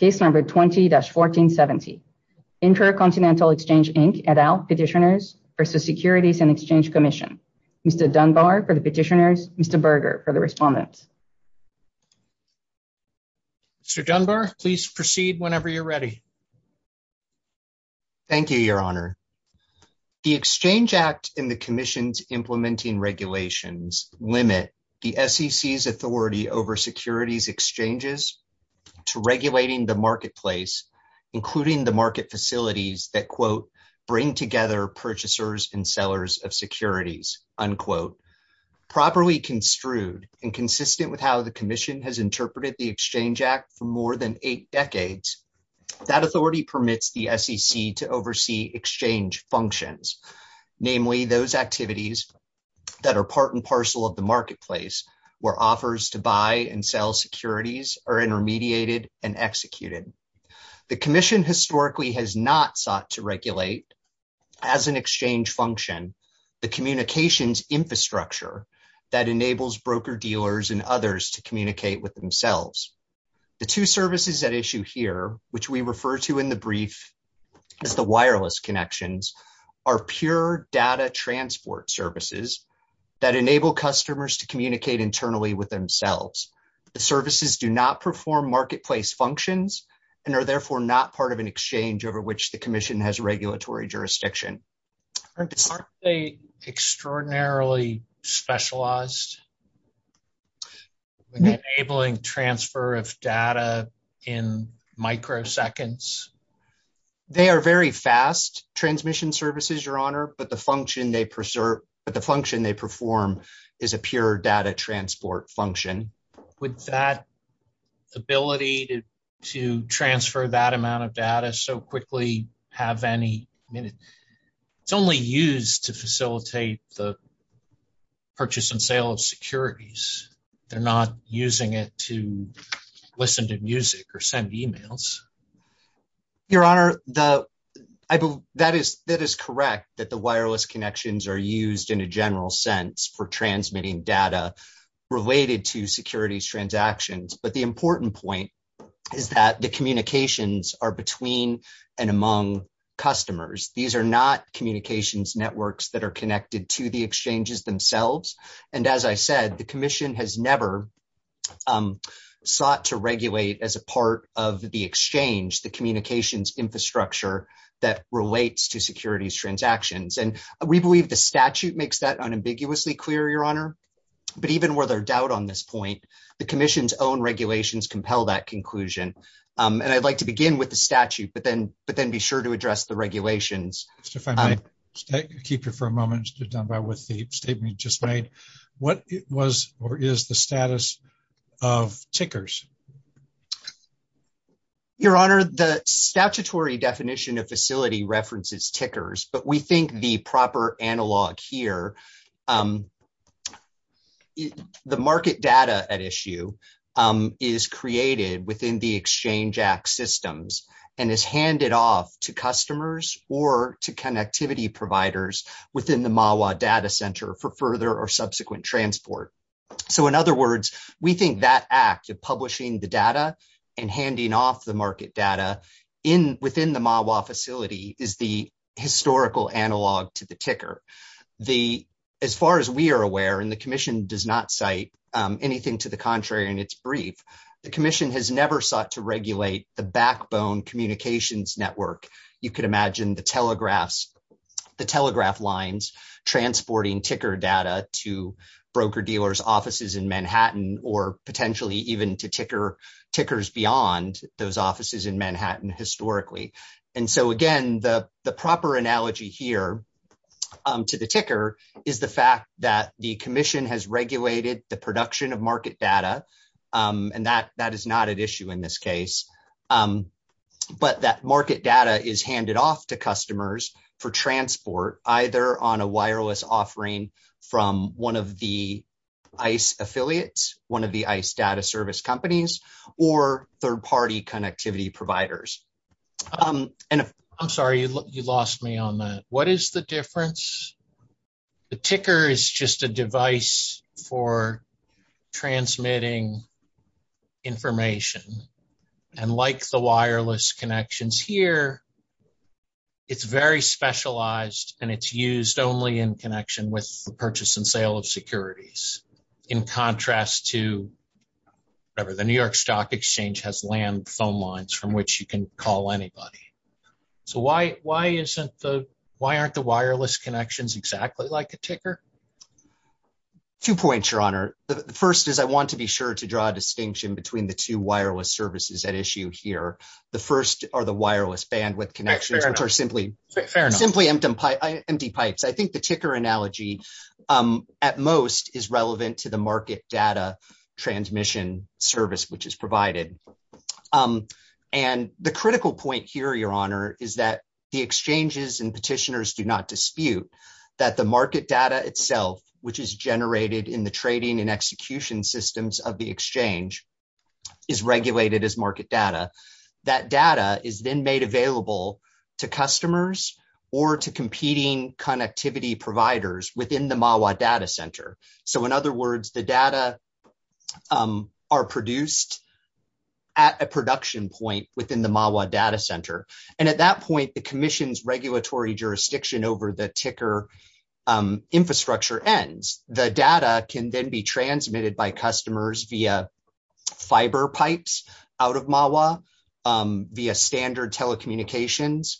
and Exchange Commission, Mr. Dunbar for the Petitioners, Mr. Berger for the Respondents. Mr. Dunbar, please proceed whenever you're ready. Thank you, Your Honor. The Exchange Act and the Commission's implementing regulations limit the SEC's authority over securities exchanges to regulating the marketplace, including the market facilities that, quote, bring together purchasers and sellers of securities, unquote. Properly construed and consistent with how the Commission has interpreted the Exchange Act for more than eight decades, that authority permits the SEC to oversee exchange functions, namely those activities that are part and parcel of the marketplace where offers to buy and sell securities are intermediated and executed. The Commission historically has not sought to regulate as an exchange function the communications infrastructure that enables broker-dealers and others to communicate with themselves. The two services at issue here, which we refer to in the pure data transport services, that enable customers to communicate internally with themselves. The services do not perform marketplace functions and are therefore not part of an exchange over which the Commission has regulatory jurisdiction. Aren't they extraordinarily specialized in enabling transfer of data in microseconds? They are very fast transmission services, Your Honor, but the function they perform is a pure data transport function. Would that ability to transfer that amount of data so quickly have any meaning? It's only used to facilitate the purchase and sale of securities. They're not Your Honor, that is correct that the wireless connections are used in a general sense for transmitting data related to securities transactions, but the important point is that the communications are between and among customers. These are not communications networks that are connected to the exchanges themselves, and as I said, the Commission has never sought to regulate as a part of the exchange the communications infrastructure that relates to securities transactions. We believe the statute makes that unambiguously clear, Your Honor, but even where there's doubt on this point, the Commission's own regulations compel that conclusion. I'd like to begin with the statute, but then be sure to address the regulations. If I might keep you for a moment just on what the statement just made, what was or is the status of tickers? Your Honor, the statutory definition of facility references tickers, but we think the proper analog here, the market data at issue is created within the Exchange Act systems and is handed off to customers or to connectivity providers within the MAWA data center for further or subsequent transport. In other words, we think that act of publishing the data and handing off the market data within the MAWA facility is the historical analog to the ticker. As far as we are aware, and the Commission does not cite anything to the contrary in its brief, the Commission has never sought to regulate the backbone communications network. You could imagine the telegraph lines transporting ticker data to broker-dealers' offices in Manhattan or potentially even to tickers beyond those offices in Manhattan historically. Again, the proper analogy here to the ticker is the fact that the Commission has regulated the production of market data, and that is not at issue in this case, but that market data is handed off to customers for transport either on a wireless offering from one of the ICE affiliates, one of the ICE data service companies, or third-party connectivity providers. I'm sorry, you lost me on that. What is the difference? The ticker is just a device for transmitting information, and like the wireless connections here, it's very specialized and it's used only in connection with the purchase and sale of securities in contrast to, whatever, the New York Stock Exchange has phone lines from which you can call anybody. So why aren't the wireless connections exactly like a ticker? Two points, Your Honor. The first is I want to be sure to draw a distinction between the two wireless services at issue here. The first are the wireless bandwidth connections, which are simply empty pipes. I think the ticker analogy at most is relevant to the market data transmission service which is provided. And the critical point here, Your Honor, is that the exchanges and petitioners do not dispute that the market data itself, which is generated in the trading and execution systems of the exchange, is regulated as market data. That data is then made available to customers or to competing connectivity providers within the MAWA data center. So in other words, the data are produced at a production point within the MAWA data center. And at that point, the commission's regulatory jurisdiction over the ticker infrastructure ends. The data can then be transmitted by customers via fiber pipes out of MAWA, via standard telecommunications,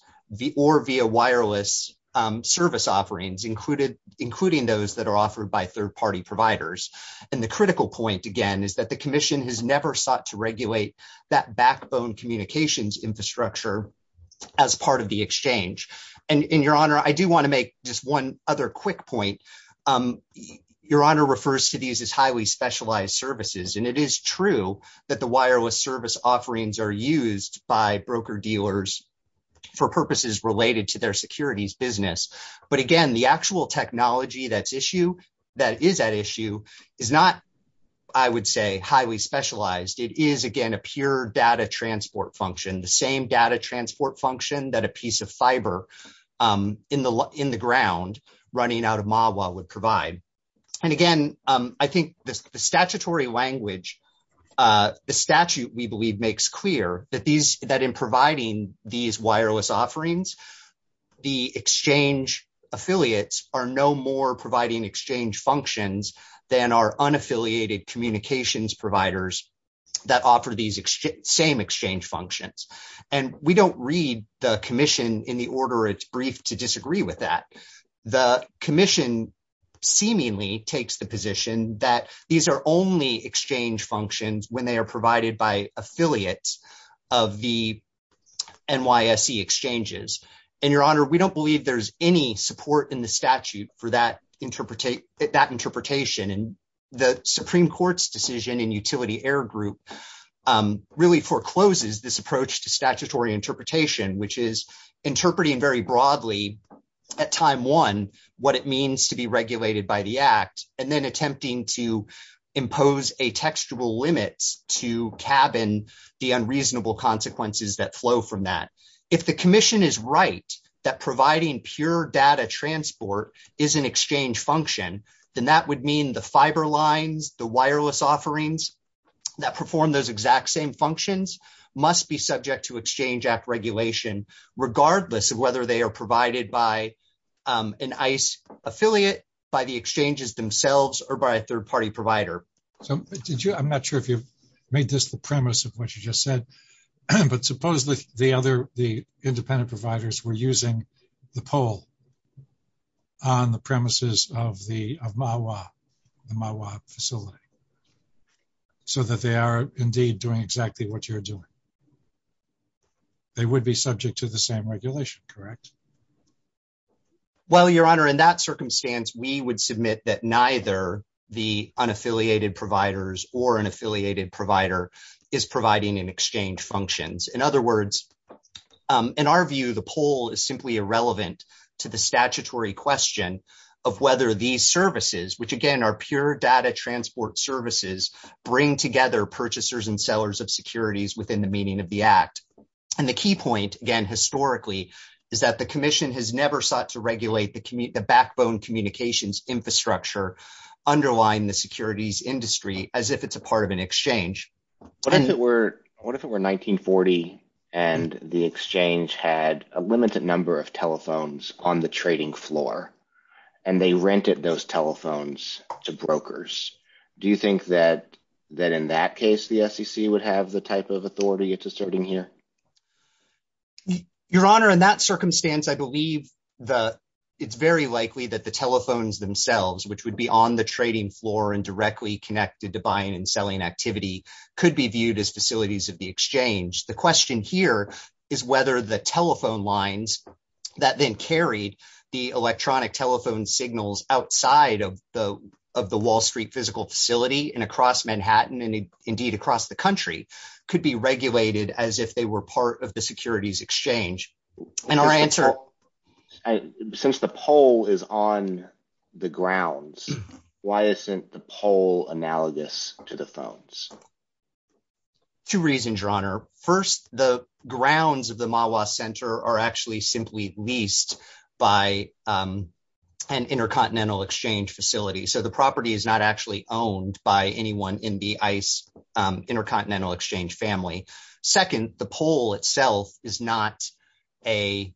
or via wireless service offerings, including those that are offered by third-party providers. And the critical point, again, is that the commission has never sought to regulate that backbone communications infrastructure as part of the exchange. And Your Honor, I do want to make just one other quick point. Your Honor refers to these as highly specialized services. And it is true that the wireless service offerings are used by broker dealers for purposes related to their securities business. But again, the actual technology that's at issue is not, I would say, highly specialized. It is, again, a pure data transport function, the same data transport function that a piece of fiber in the ground running out of MAWA would provide. And again, I think the statutory language, the statute, we believe, makes clear that in providing these wireless offerings, the exchange affiliates are no more providing exchange functions than are unaffiliated communications providers that offer these same exchange functions. And we don't read the commission in the order it's briefed to disagree with that. The commission seemingly takes the position that these are only exchange functions when they are NYSE exchanges. And Your Honor, we don't believe there's any support in the statute for that interpretation. And the Supreme Court's decision in utility error group really forecloses this approach to statutory interpretation, which is interpreting very broadly at time one, what it means to be regulated by the act, and then attempting to flow from that. If the commission is right that providing pure data transport is an exchange function, then that would mean the fiber lines, the wireless offerings that perform those exact same functions, must be subject to Exchange Act regulation, regardless of whether they are provided by an NYSE affiliate, by the exchanges themselves, or by a third-party provider. So did you, I'm not sure if you've made this the premise of what you just said, but supposedly the other, the independent providers were using the poll on the premises of the, of MAWA, the MAWA facility, so that they are indeed doing exactly what you're doing. They would be subject to the same regulation, correct? Well, Your Honor, in that circumstance, we would submit that neither the unaffiliated providers or an affiliated provider is providing an exchange functions. In other words, in our view, the poll is simply irrelevant to the statutory question of whether these services, which again are pure data transport services, bring together purchasers and sellers of securities within the meaning of the Act. And the key point, again, historically, is that the commission has never sought to regulate the backbone communications infrastructure underlying the securities industry as if it's a part of an exchange. What if it were, what if it were 1940 and the exchange had a limited number of telephones on the trading floor and they rented those to the exchange? Is that the authority it's asserting here? Your Honor, in that circumstance, I believe the, it's very likely that the telephones themselves, which would be on the trading floor and directly connected to buying and selling activity, could be viewed as facilities of the exchange. The question here is whether the telephone lines that then carried the electronic telephone signals outside of the, of the Wall Street physical facility and across Manhattan and indeed across the country, could be regulated as if they were part of the securities exchange. Since the poll is on the grounds, why isn't the poll analogous to the phones? Two reasons, Your Honor. First, the grounds of the Mawa Center are actually simply leased by an intercontinental exchange facility. So the property is not actually owned by anyone in the ICE intercontinental exchange family. Second, the poll itself is not a,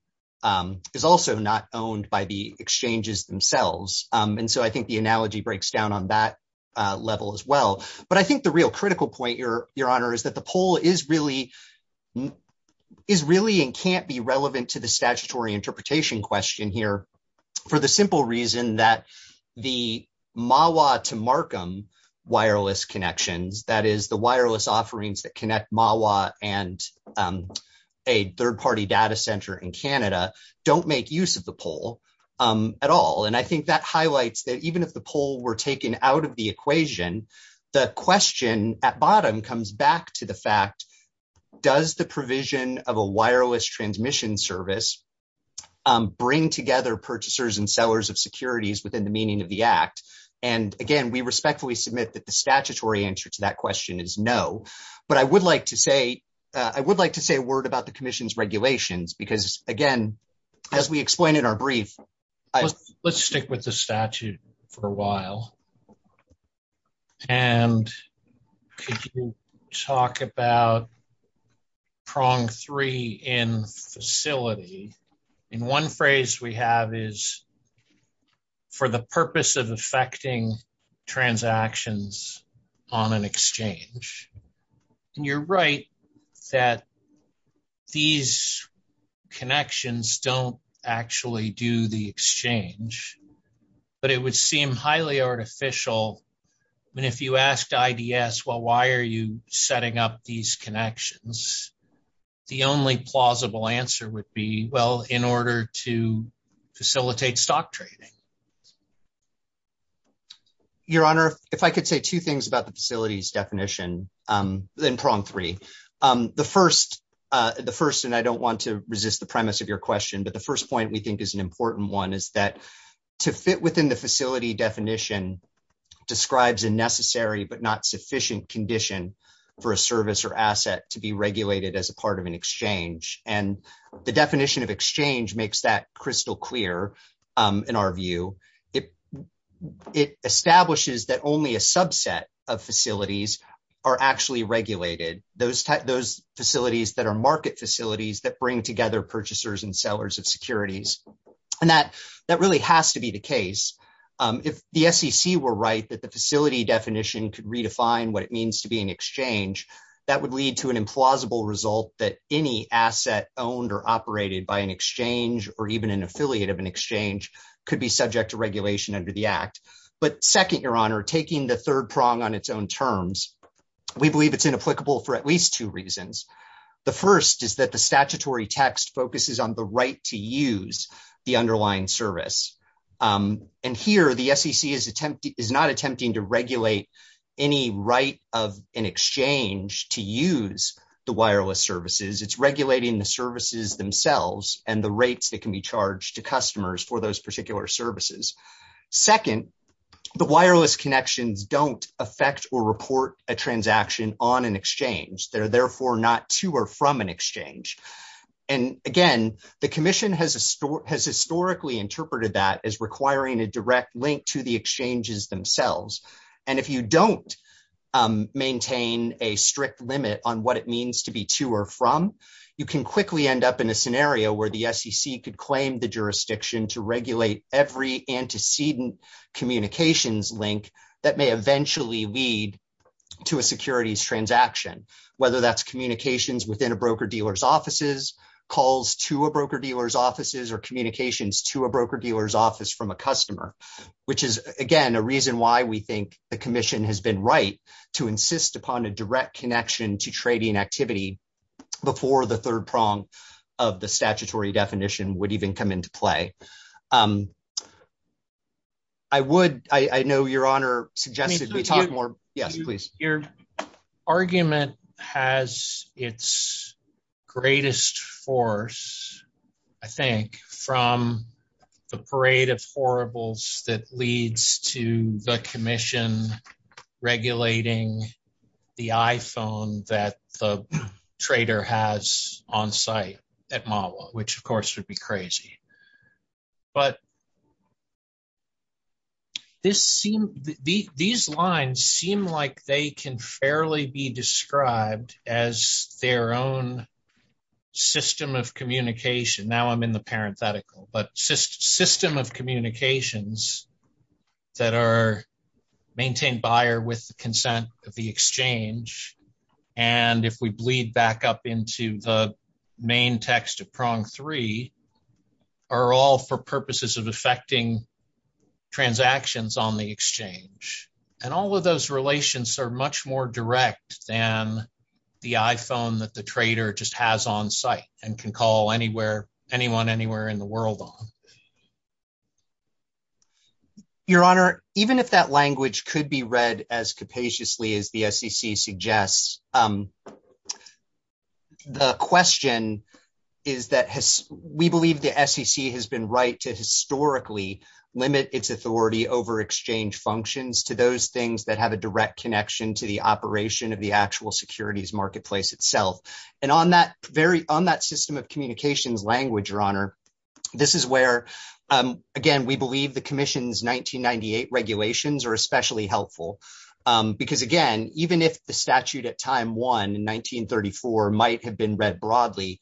is also not owned by the exchanges themselves. And so I think the analogy breaks down on that level as well. But I think the real critical point, Your Honor, is that the poll is really, is really and can't be relevant to the statutory interpretation question here for the simple reason that the Mawa to Markham wireless connections, that is the wireless offerings that connect Mawa and a third-party data center in Canada, don't make use of the poll at all. And I think that highlights that even if the poll were taken out of the equation, the question at bottom comes back to the fact, does the provision of a wireless transmission service bring together purchasers and sellers of securities within the meaning of the act? And again, we respectfully submit that the statutory answer to that question is no, but I would like to say, I would like to say a word about the commission's regulations because again, as we explained in our brief. Let's stick with the prong three in facility. And one phrase we have is for the purpose of affecting transactions on an exchange. And you're right that these connections don't actually do the exchange, but it would seem highly artificial. And if you asked IDS, well, why are you doing these connections? The only plausible answer would be, well, in order to facilitate stock trading. Your honor, if I could say two things about the facilities definition, then prong three. The first, the first, and I don't want to resist the premise of your question, but the first point we think is an important one is that to fit within the facility definition describes a necessary, but not sufficient condition for a service or asset to be regulated as a part of an exchange. And the definition of exchange makes that crystal clear in our view. It, it establishes that only a subset of facilities are actually regulated. Those, those facilities that are market facilities that bring together purchasers and sellers of were right that the facility definition could redefine what it means to be an exchange. That would lead to an implausible result that any asset owned or operated by an exchange, or even an affiliate of an exchange could be subject to regulation under the act. But second, your honor, taking the third prong on its own terms, we believe it's inapplicable for at least two reasons. The first is that the statutory text focuses on the right to use the underlying service. And here the SEC is attempting, is not attempting to regulate any right of an exchange to use the wireless services. It's regulating the services themselves and the rates that can be charged to customers for those particular services. Second, the wireless connections don't affect or report a transaction on an exchange that are therefore not to or from an exchange. And again, the requiring a direct link to the exchanges themselves. And if you don't maintain a strict limit on what it means to be to or from, you can quickly end up in a scenario where the SEC could claim the jurisdiction to regulate every antecedent communications link that may eventually lead to a securities transaction. Whether that's communications within a broker dealer's offices, calls to a broker dealer's offices, or communications to a broker dealer's office from a customer, which is again, a reason why we think the commission has been right to insist upon a direct connection to trading activity before the third prong of the statutory definition would even come into play. I would, I know your honor suggested we talk more. Your argument has its greatest force, I think, from the parade of horribles that leads to the commission regulating the iPhone that the trader has on site at MAWA, which of course would be like they can fairly be described as their own system of communication. Now I'm in the parenthetical, but system of communications that are maintained by or with the consent of the exchange. And if we bleed back up into the main text of prong three, are all for purposes of effecting transactions on the exchange. And all of those relations are much more direct than the iPhone that the trader just has on site and can call anywhere, anyone, anywhere in the world on. Your honor, even if that language could be read as capaciously as the SEC suggests, the question is that we believe the SEC has been right to historically limit its authority over exchange functions to those things that have a direct connection to the operation of the actual securities marketplace itself. And on that system of communications language, your honor, this is where, again, we believe the commission's 1998 regulations are especially helpful. Because again, even if the statute at time one in 1934 might have been read broadly,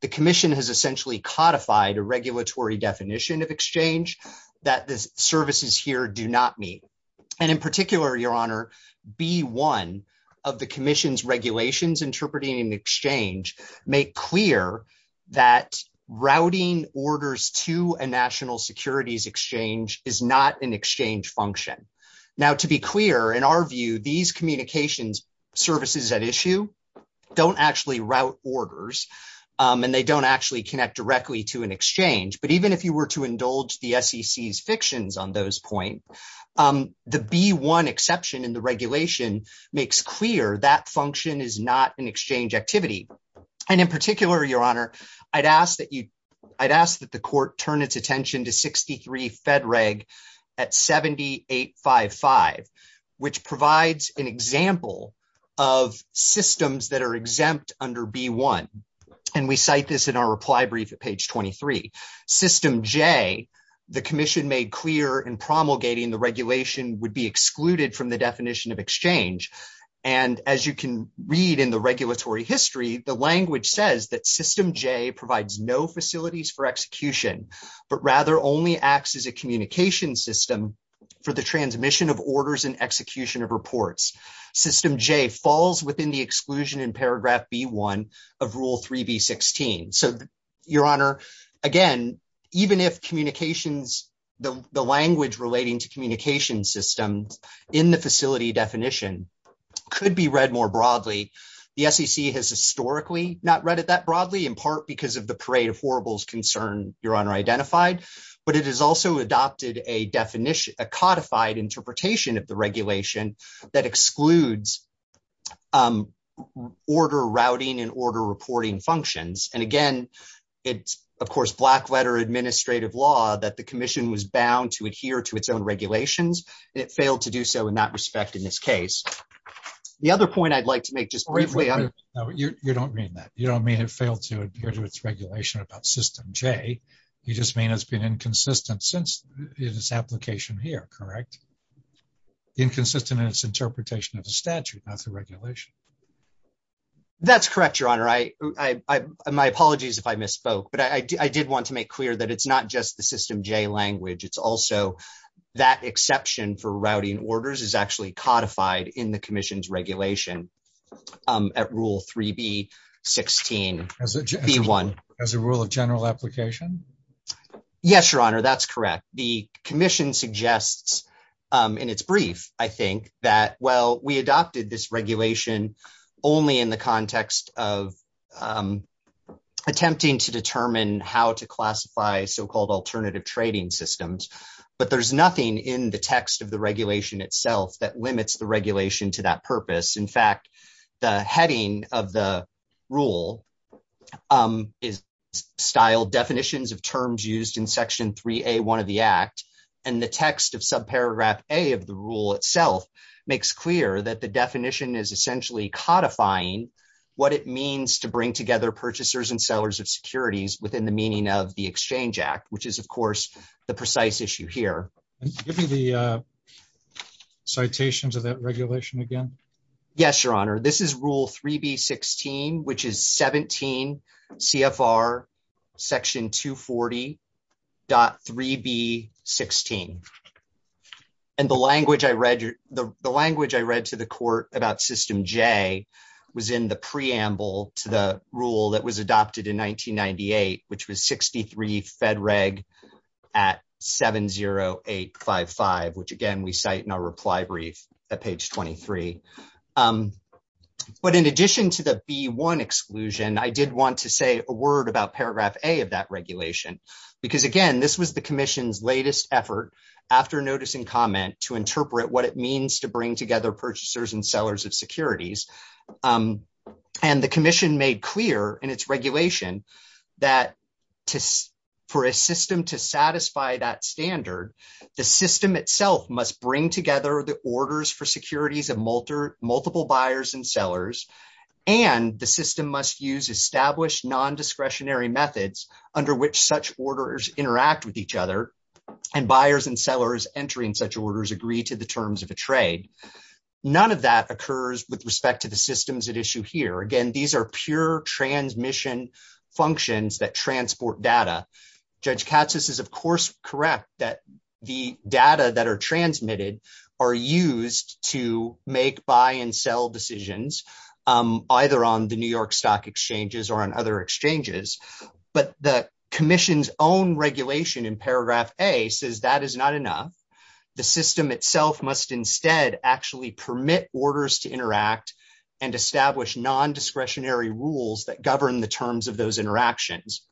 the commission has essentially codified a regulatory definition of exchange that the services here do not meet. And in particular, your honor, be one of the commission's regulations interpreting exchange, make clear that routing orders to a national securities exchange is not an exchange function. Now, to be clear, in our view, these communications services at issue don't actually route orders and they don't actually connect directly to an exchange. But even if you were to indulge the SEC's fictions on those points, the B1 exception in the regulation makes clear that function is not an exchange activity. And in particular, your honor, I'd ask that you, I'd ask that the court turn its attention to 63 Fed Reg at 7855, which provides an example of systems that are exempt under B1. And we cite this in our reply brief at page 23. System J, the commission made clear in promulgating the regulation would be excluded from the definition of exchange. And as you can read in the regulatory history, the language says that provides no facilities for execution, but rather only acts as a communication system for the transmission of orders and execution of reports. System J falls within the exclusion in paragraph B1 of rule 3B16. So your honor, again, even if communications, the language relating to communication systems in the facility definition could be read more broadly, the SEC has because of the parade of horribles concern your honor identified, but it has also adopted a definition, a codified interpretation of the regulation that excludes order routing and order reporting functions. And again, it's of course, black letter administrative law that the commission was bound to adhere to its own regulations, and it failed to do so in that respect in this case. The other point I'd like to make just briefly. No, you don't mean that. You don't mean it failed to adhere to its regulation about System J. You just mean it's been inconsistent since this application here, correct? Inconsistent in its interpretation of the statute, not the regulation. That's correct, your honor. I, I, I, my apologies if I misspoke, but I, I did want to make clear that it's not just the System J language. It's also that exception for routing orders is actually codified in the commission's regulation at rule 3B-16-B1. As a rule of general application? Yes, your honor. That's correct. The commission suggests in its brief, I think that, well, we adopted this regulation only in the context of attempting to determine how to classify so-called alternative trading systems, but there's nothing in the text of the regulation itself that limits the regulation to that purpose. In fact, the heading of the rule is styled definitions of terms used in section 3A-1 of the Act, and the text of subparagraph A of the rule itself makes clear that the definition is essentially codifying what it means to bring together purchasers and sellers of securities within the meaning of the Exchange Act, which is, of course, the precise issue here. Give me the, uh, citations of that regulation again. Yes, your honor. This is rule 3B-16, which is 17 CFR section 240.3B-16, and the language I read, the language I read to the court about System J was in the preamble to the rule that was adopted in 1998, which was 63 Fed at 70855, which, again, we cite in our reply brief at page 23. But in addition to the B-1 exclusion, I did want to say a word about paragraph A of that regulation because, again, this was the Commission's latest effort after notice and comment to interpret what it means to bring together purchasers and sellers of securities, and the Commission made clear in its regulation that for a system to satisfy that standard, the system itself must bring together the orders for securities of multiple buyers and sellers, and the system must use established nondiscretionary methods under which such orders interact with each other, and buyers and sellers entering such orders agree to the terms of a trade. None of that occurs with respect to the functions that transport data. Judge Katsas is, of course, correct that the data that are transmitted are used to make buy and sell decisions, either on the New York Stock Exchanges or on other exchanges, but the Commission's own regulation in paragraph A says that is not enough. The system itself must instead actually permit orders to interact and establish nondiscretionary rules that govern the terms of those interactions,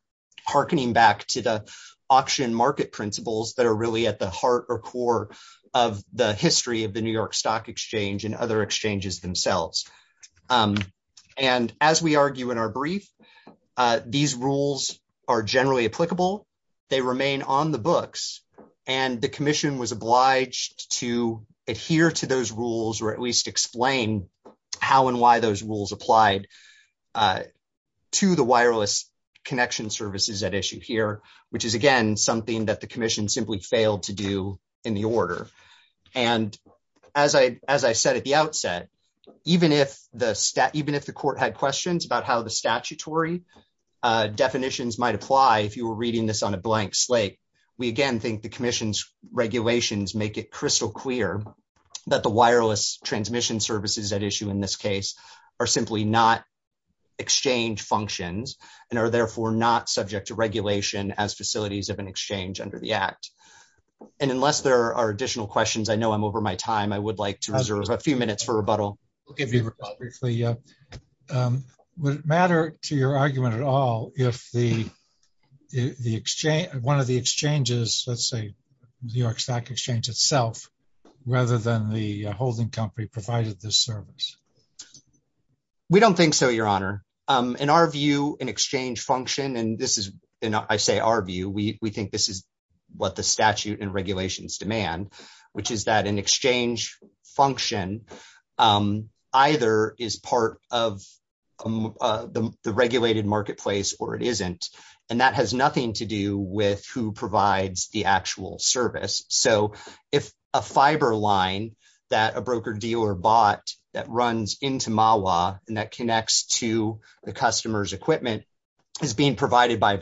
hearkening back to the auction market principles that are really at the heart or core of the history of the New York Stock Exchange and other exchanges themselves, and as we argue in our brief, these rules are generally applicable. They remain on the books, and the Commission was obliged to adhere to those rules or at least explain how and why those rules applied to the wireless connection services at issue here, which is, again, something that the Commission simply failed to do in the order, and as I said at the outset, even if the court had questions about how the statutory definitions might apply, if you were reading this on a blank slate, we, again, think the Commission's regulations make it crystal clear that the wireless transmission services at issue in this case are simply not exchange functions and are therefore not subject to regulation as facilities of an exchange under the Act, and unless there are additional questions, I know I'm over my time. I would like to reserve a few minutes for rebuttal. Okay. Would it matter to your argument at all if the exchange, one of the exchanges, let's say the New York Stock Exchange itself, rather than the holding company provided this service? We don't think so, Your Honor. In our view, an exchange function, and this is, you know, I say our view, we think this is what the statute and regulations demand, which is that an exchange function either is part of the regulated marketplace or it isn't, and that has nothing to do with who provides the actual service. So, if a fiber line that a broker dealer bought that runs into MAWA and that connects to the customer's equipment is being provided by an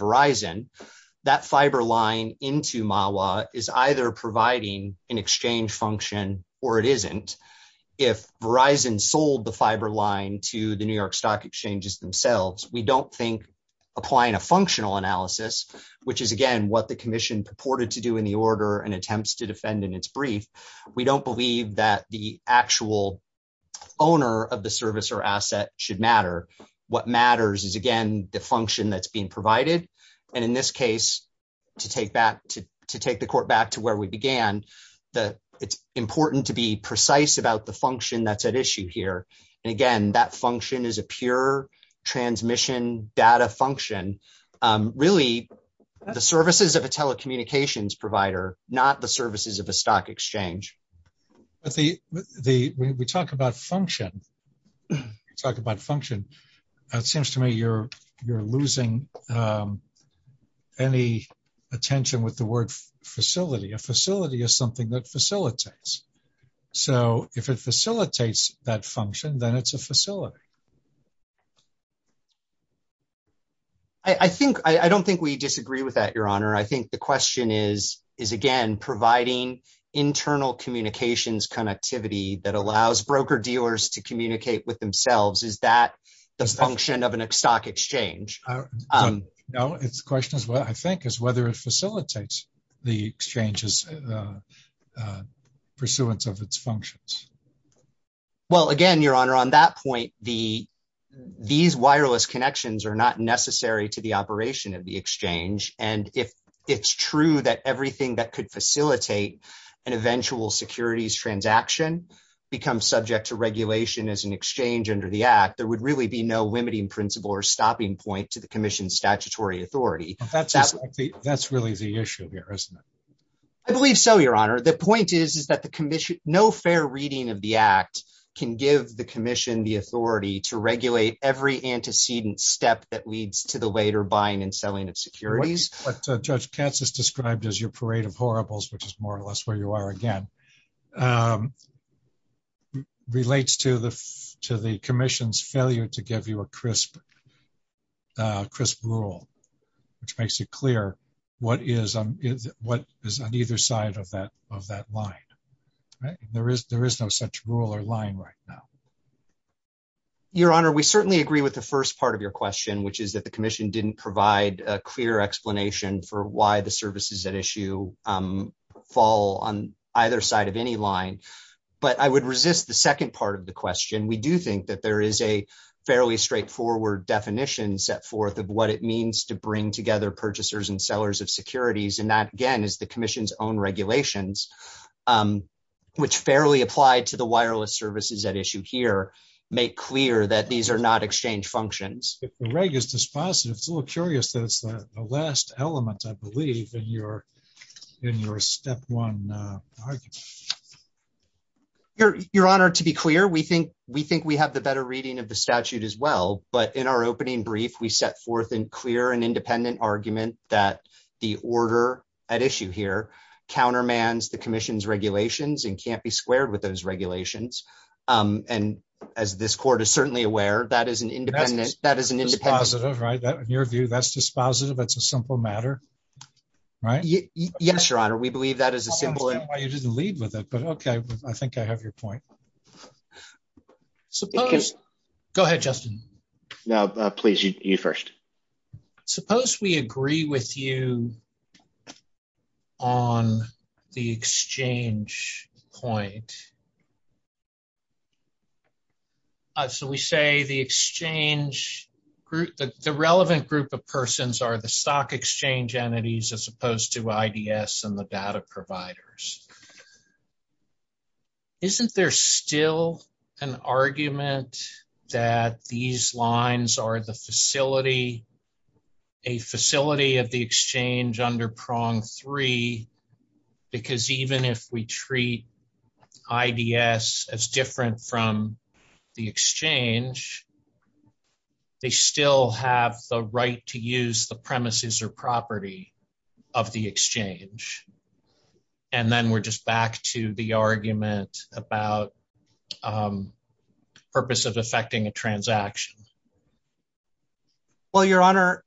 exchange function or it isn't, if Verizon sold the fiber line to the New York Stock Exchange themselves, we don't think applying a functional analysis, which is, again, what the commission purported to do in the order and attempts to defend in its brief, we don't believe that the actual owner of the service or asset should matter. What matters is, again, the function that's being important to be precise about the function that's at issue here. And again, that function is a pure transmission data function. Really, the services of a telecommunications provider, not the services of the stock exchange. But we talk about function. We talk about function. It seems to me you're losing any attention with the word facility. A facility is something that facilitates. So, if it facilitates that function, then it's a facility. I think, I don't think we disagree with that, Your Honor. I think the question is, is, again, providing internal communications connectivity that allows broker dealers to communicate with themselves, is that the function of a stock exchange? No. The question, I think, is whether it facilitates the exchange's pursuance of its functions. Well, again, Your Honor, on that point, these wireless connections are not necessary to the operation of the exchange. And if it's true that everything that could facilitate an eventual securities transaction becomes subject to regulation as an exchange under the Act, there would really be no limiting principle or stopping point to the Commission's statutory authority. That's really the issue here, isn't it? I believe so, Your Honor. The point is that no fair reading of the Act can give the Commission the authority to regulate every antecedent step that leads to the later buying and selling of securities. What Judge Katz has described as your parade of horribles, which is more or less where you are again, relates to the Commission's failure to give you a crisp rule, which makes it clear what is on either side of that line. There is no such rule or line right now. Your Honor, we certainly agree with the first part of your question, which is that the Commission didn't provide a clear explanation for why the services at issue fall on either side of any line. But I would resist the second part of the question. We do think that there is a fairly straightforward definition set forth of what it means to bring together purchasers and sellers of securities. And that, again, is the Commission's own regulations, which fairly apply to the wireless services at issue here, make clear that these are not exchange functions. If the reg is dispositive, it's a little curious that it's the last element, I believe, in your step one argument. Your Honor, to be clear, we think we have the better reading of the statute as well. But in our opening brief, we set forth in clear and independent argument that the order at issue here countermands the Commission's regulations and can't be squared with those dispositive, right? In your view, that's dispositive, that's a simple matter, right? Yes, Your Honor, we believe that is a simple... I didn't lead with it, but okay, I think I have your point. Suppose... Go ahead, Justin. No, please, you first. Suppose we agree with you on the exchange point. So we say the exchange group, the relevant group of persons are the stock exchange entities as opposed to IDS and the data providers. Isn't there still an argument that these lines are the facility, a facility of the exchange under prong three? Because even if we treat IDS as different from the exchange, they still have the right to use the premises or property of the exchange. And then we're just back to the argument about purpose of affecting a transaction. Well, Your Honor,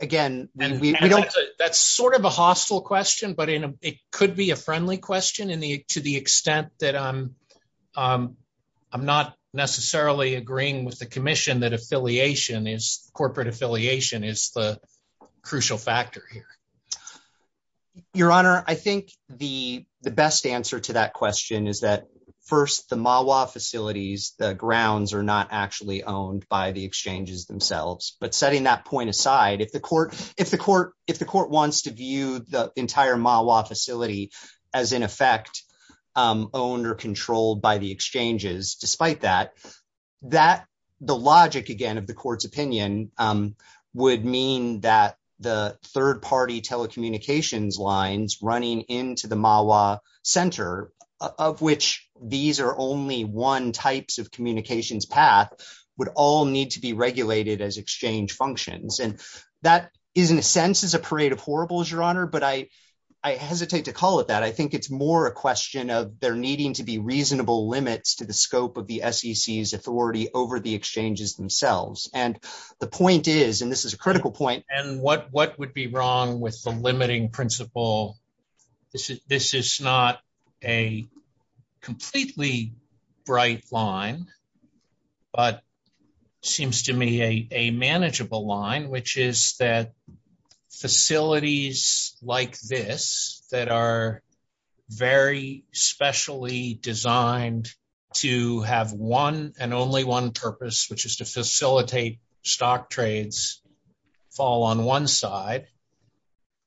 again, we don't... That's sort of a hostile question, but it could be a friendly question to the extent that I'm not necessarily agreeing with the Commission that affiliation is, corporate affiliation is the crucial factor here. Your Honor, I think the best answer to that question is that first the MAWA facilities, the grounds are not actually owned by the exchanges themselves. But setting that point aside, if the court wants to view the entire MAWA facility as in effect owned or controlled by the exchanges, despite that, that the logic again of the court's opinion would mean that the third telecommunications lines running into the MAWA center of which these are only one types of communications path would all need to be regulated as exchange functions. And that is in a sense is a parade of horribles, Your Honor, but I hesitate to call it that. I think it's more a question of there needing to be reasonable limits to the scope of the SEC's authority over the exchanges themselves. And the point is, and this is a critical point. And what would be wrong with the limiting principle? This is not a completely bright line, but seems to me a manageable line, which is that facilities like this that are very specially designed to have one and only one which is to facilitate stock trades fall on one side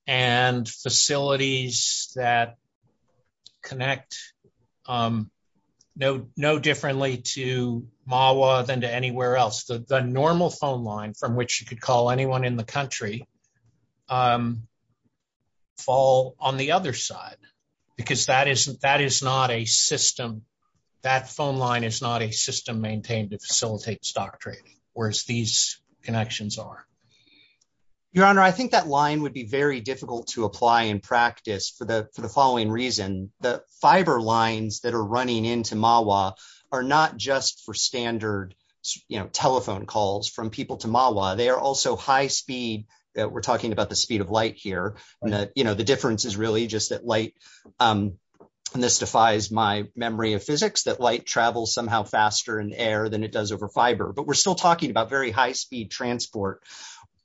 and facilities that connect no differently to MAWA than to anywhere else. The normal phone line from which you could call anyone in the country fall on the other side, because that is not a system. That phone line is not a system maintained to facilitate stock trading, whereas these connections are. Your Honor, I think that line would be very difficult to apply in practice for the following reason. The fiber lines that are running into MAWA are not just for standard, you know, telephone calls from people to MAWA. They are also high speed that we're talking about the speed of light here. And that, you know, the difference is really just that light, and this defies my memory of physics, that light travels somehow faster in air than it does over fiber. But we're still talking about very high speed transport,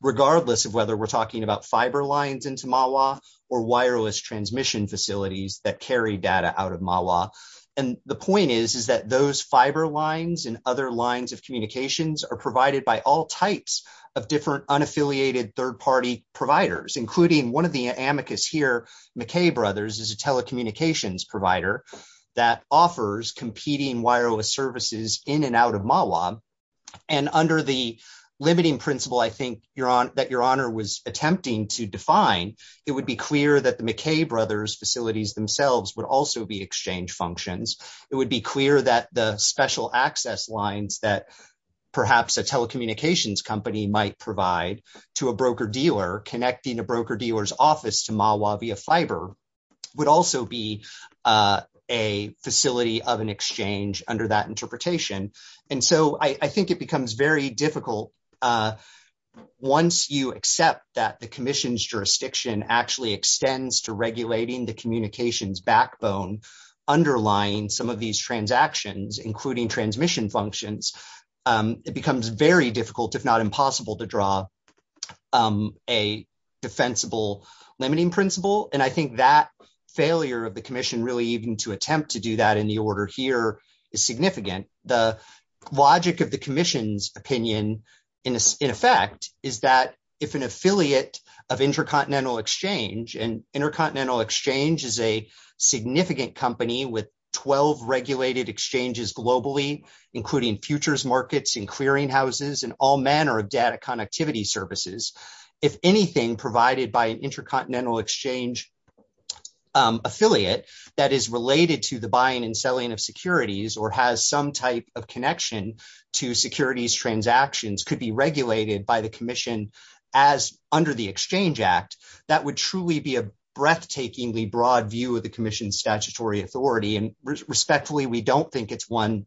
regardless of whether we're talking about fiber lines into MAWA or wireless transmission facilities that carry data out of MAWA. And the point is, is that those fiber lines and other lines of communications are provided by all types of different unaffiliated third party providers, including one of the amicus here, McKay Brothers, is a telecommunications provider that offers competing wireless services in and out of MAWA. And under the limiting principle, I think that Your Honor was attempting to define, it would be clear that the McKay Brothers facilities themselves would also be exchange functions. It would be clear that the special access lines that perhaps a telecommunications company might provide to a broker dealer connecting a broker dealer's office to MAWA via fiber would also be a facility of an exchange under that interpretation. And so I think it becomes very difficult once you accept that the commission's jurisdiction actually extends to regulating the communications backbone underlying some of these transactions, including transmission functions. It becomes very difficult, if not impossible to draw a defensible limiting principle. And I think that failure of the commission really even to attempt to do that in the order here is significant. The logic of the commission's opinion in effect is that if an affiliate of intercontinental exchange and intercontinental exchange is a significant company with 12 regulated exchanges globally, including futures markets and clearinghouses and all manner of data connectivity services, if anything provided by an intercontinental exchange affiliate that is related to the buying and selling of securities or has some type of connection to securities transactions could be regulated by the commission as under the Exchange Act, that would truly be a we don't think it's one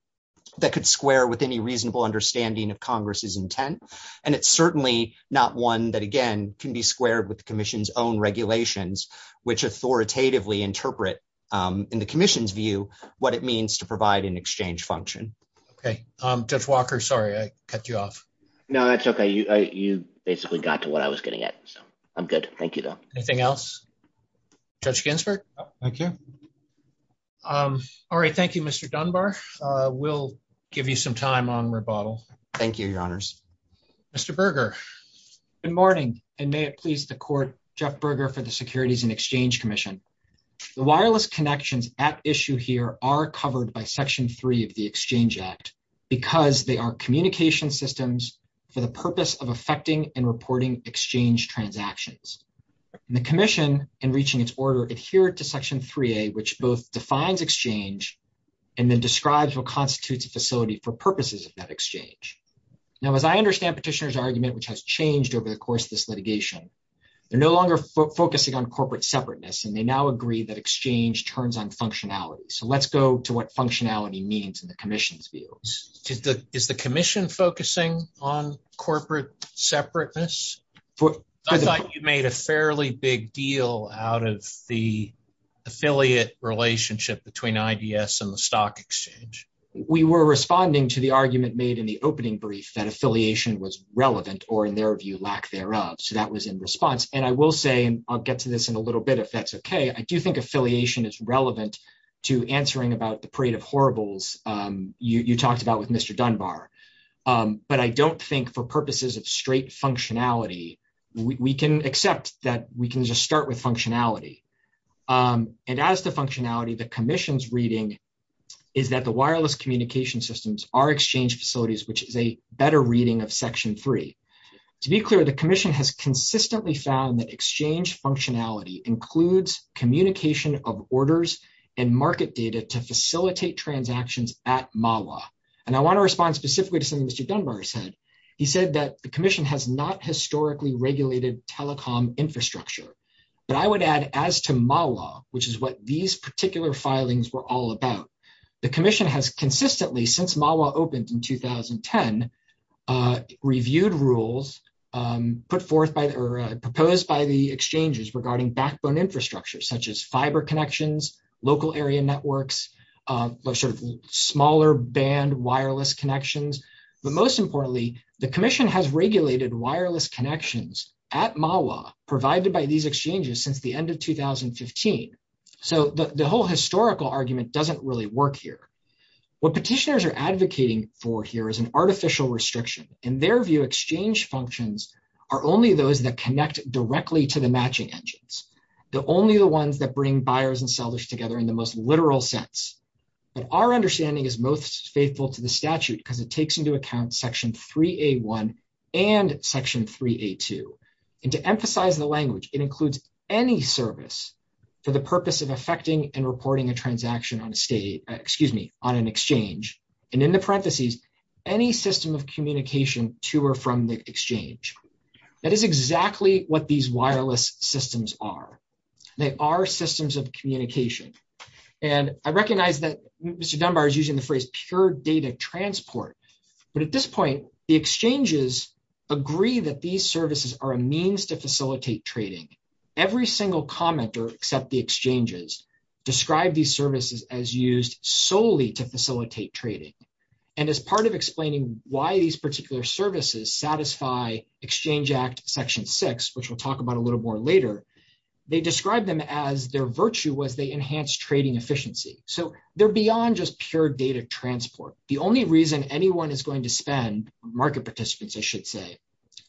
that could square with any reasonable understanding of Congress's intent. And it's certainly not one that again can be squared with the commission's own regulations, which authoritatively interpret in the commission's view what it means to provide an exchange function. Okay. Jeff Walker, sorry, I cut you off. No, that's okay. You basically got to what I was getting at. I'm good. Thank you, though. Anything else? Judge Ginsburg? Thank you. All right. Thank you, Mr. Dunbar. We'll give you some time on rebuttal. Thank you, Your Honors. Mr. Berger. Good morning, and may it please the Court, Jeff Berger for the Securities and Exchange Commission. The wireless connections at issue here are covered by Section 3 of the Exchange Act because they are communication systems for the purpose of affecting and reporting exchange transactions. And the commission, in reaching its order, adhered to Section 3A, which both defines exchange and then describes what constitutes a facility for purposes of that exchange. Now, as I understand Petitioner's argument, which has changed over the course of this litigation, they're no longer focusing on corporate separateness, and they now agree that exchange turns on functionality. So let's go to what functionality means in the commission's view. Is the commission focusing on corporate separateness? I thought you made a fairly big deal out of the affiliate relationship between IBS and the stock exchange. We were responding to the argument made in the opening brief that affiliation was relevant or, in their view, lack thereof. So that was in response. And I will say, and I'll get to this in a little bit if that's okay, I do think affiliation is relevant to answering about the parade of horribles you talked about with Mr. Dunbar. But I don't think, for purposes of straight functionality, we can accept that we can just start with functionality. And as to functionality, the commission's reading is that the wireless communication systems are exchange facilities, which is a better reading of Section 3. To be clear, the commission has consistently found that exchange functionality includes communication of orders and market data to facilitate transactions at MAWA. And I want to respond specifically to something Mr. Dunbar said. He said that the commission has not historically regulated telecom infrastructure. But I would add, as to MAWA, which is what these particular filings were all about, the commission has consistently, since MAWA opened in 2010, reviewed rules proposed by the exchanges regarding backbone infrastructure, such as fiber connections, local area networks, smaller band wireless connections. But most importantly, the commission has regulated wireless connections at MAWA provided by these exchanges since the end of 2015. So the whole historical argument doesn't really work here. What petitioners are advocating for here is an artificial restriction. In their view, exchange functions are only those that connect directly to the matching engines. They're only the ones that bring buyers and sellers together in the most literal sense. But our understanding is most faithful to the statute because it takes into account Section 3A1 and Section 3A2. And to emphasize the language, it includes any service for the purpose of effecting and reporting a transaction on an exchange. And in the parentheses, any system of communication to or from the exchange. That is exactly what these wireless systems are. They are systems of communication. And I recognize that Mr. Dunbar is using the phrase pure data transport. But at this point, the exchanges agree that these services are a means to facilitate trading. Every single commenter, except the exchanges, describe these services as used solely to facilitate trading. And as part of explaining why these particular services satisfy Exchange Act Section 6, which we'll talk about a little more later, they describe them as their virtue was they enhanced trading efficiency. So they're beyond just pure data transport. The only reason anyone is going to spend, market participants, I should say,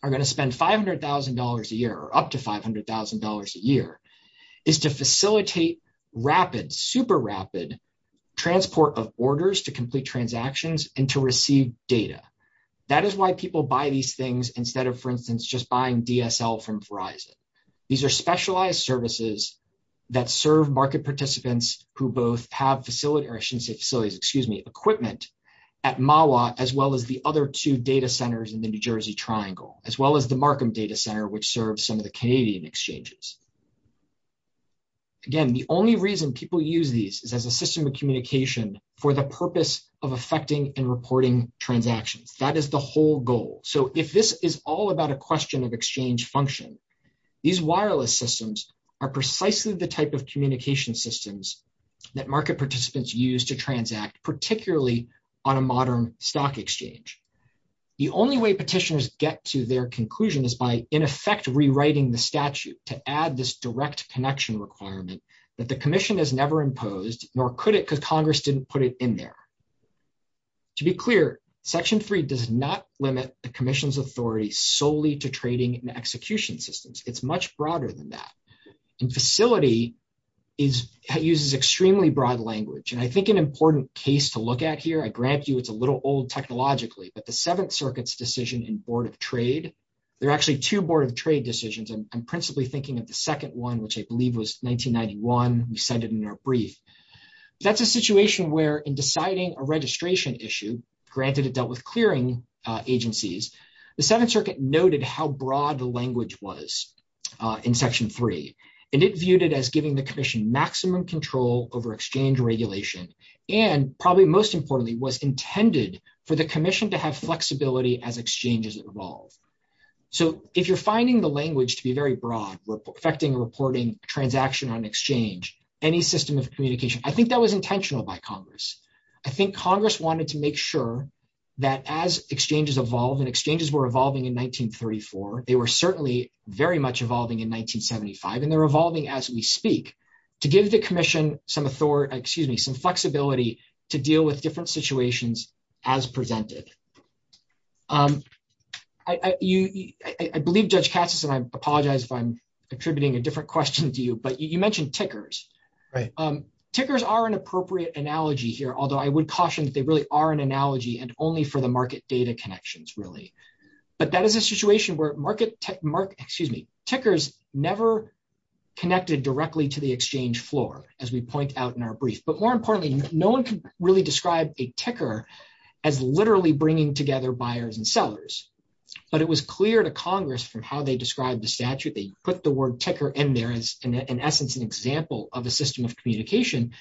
are going to spend $500,000 a year or up to $500,000 a year, is to facilitate rapid, super rapid, transport of orders to complete transactions and to receive data. That is why people buy these things instead of, for instance, just buying DSL from Verizon. These are specialized services that serve market participants who both have facilities, or I shouldn't say facilities, excuse me, equipment at MAWA, as well as the other two data centers in the New Jersey Triangle, as well as the Markham Data Center, which serves some of the Canadian exchanges. Again, the only reason people use these is as a system of communication for the purpose of affecting and reporting transactions. That is the whole goal. So if this is all about a question of exchange function, these wireless systems are precisely the type of communication systems that market participants use to transact, particularly on a modern stock exchange. The only way petitioners get to their conclusion is by, in effect, rewriting the statute to add this direct connection requirement that the Commission has never imposed, nor could it because Congress didn't put it in there. To be clear, Section 3 does not limit the Commission's authority solely to trading and execution systems. It's much broader than that. And facility uses extremely broad language. And I think an important case to look at here, I grant you it's a little old technologically, but the Seventh Circuit's decision in Board of Trade, there are actually two Board of Trade decisions. I'm principally thinking of the second one, which I believe was 1991, we cited in our brief. That's a situation where in deciding a registration issue, granted it dealt with clearing agencies, the Seventh Circuit noted how broad the language was in Section 3. And it viewed it as giving the Commission maximum control over exchange regulation, and probably most importantly, was intended for the Commission to have flexibility as exchanges evolve. So if you're finding the language to be very broad, affecting reporting transaction on exchange, any system of communication, I think that was intentional by Congress. I think Congress wanted to make sure that as exchanges evolve, and exchanges were evolving in 1934, they were certainly very much evolving in 1975, and they're evolving as we speak, to give the Commission some authority, excuse me, some flexibility to deal with different situations as presented. I believe Judge Cassis, and I apologize if I'm attributing a different question to you, but you mentioned tickers. Right. Tickers are an appropriate analogy here, although I would caution that they really are an analogy, and only for the market data connections really. But that is a situation where market tech, excuse me, tickers never connected directly to the exchange floor, as we point out in our brief. But more importantly, no one can really describe a ticker as literally bringing together buyers and sellers. But it was clear to Congress from how they described the statute, they put the word ticker in there as, in essence, an example of a system of communication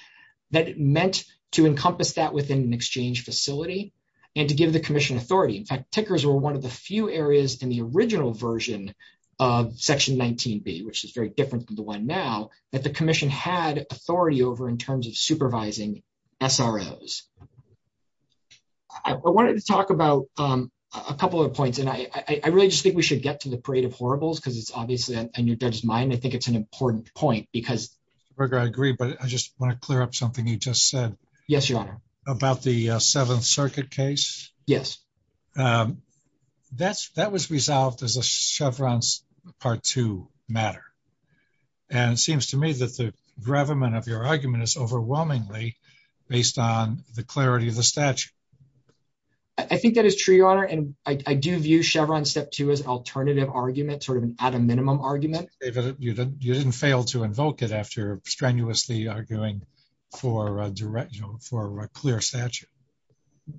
that meant to encompass that within an exchange facility, and to give the Commission authority. In fact, tickers were one of the few areas in the original version of Section 19b, which is different from the one now, that the Commission had authority over in terms of supervising SROs. I wanted to talk about a couple of points, and I really just think we should get to the creative horribles, because it's obviously a new judge's mind. I think it's an important point, because- Berger, I agree, but I just want to clear up something you just said. Yes, Your Honor. About the Seventh Circuit case. Yes. That was resolved as a Chevron's Part II matter. And it seems to me that the gravamen of your argument is overwhelmingly based on the clarity of the statute. I think that is true, Your Honor. And I do view Chevron's Step 2 as an alternative argument, sort of an at a minimum argument. You didn't fail to invoke it after strenuously arguing for a clear statute.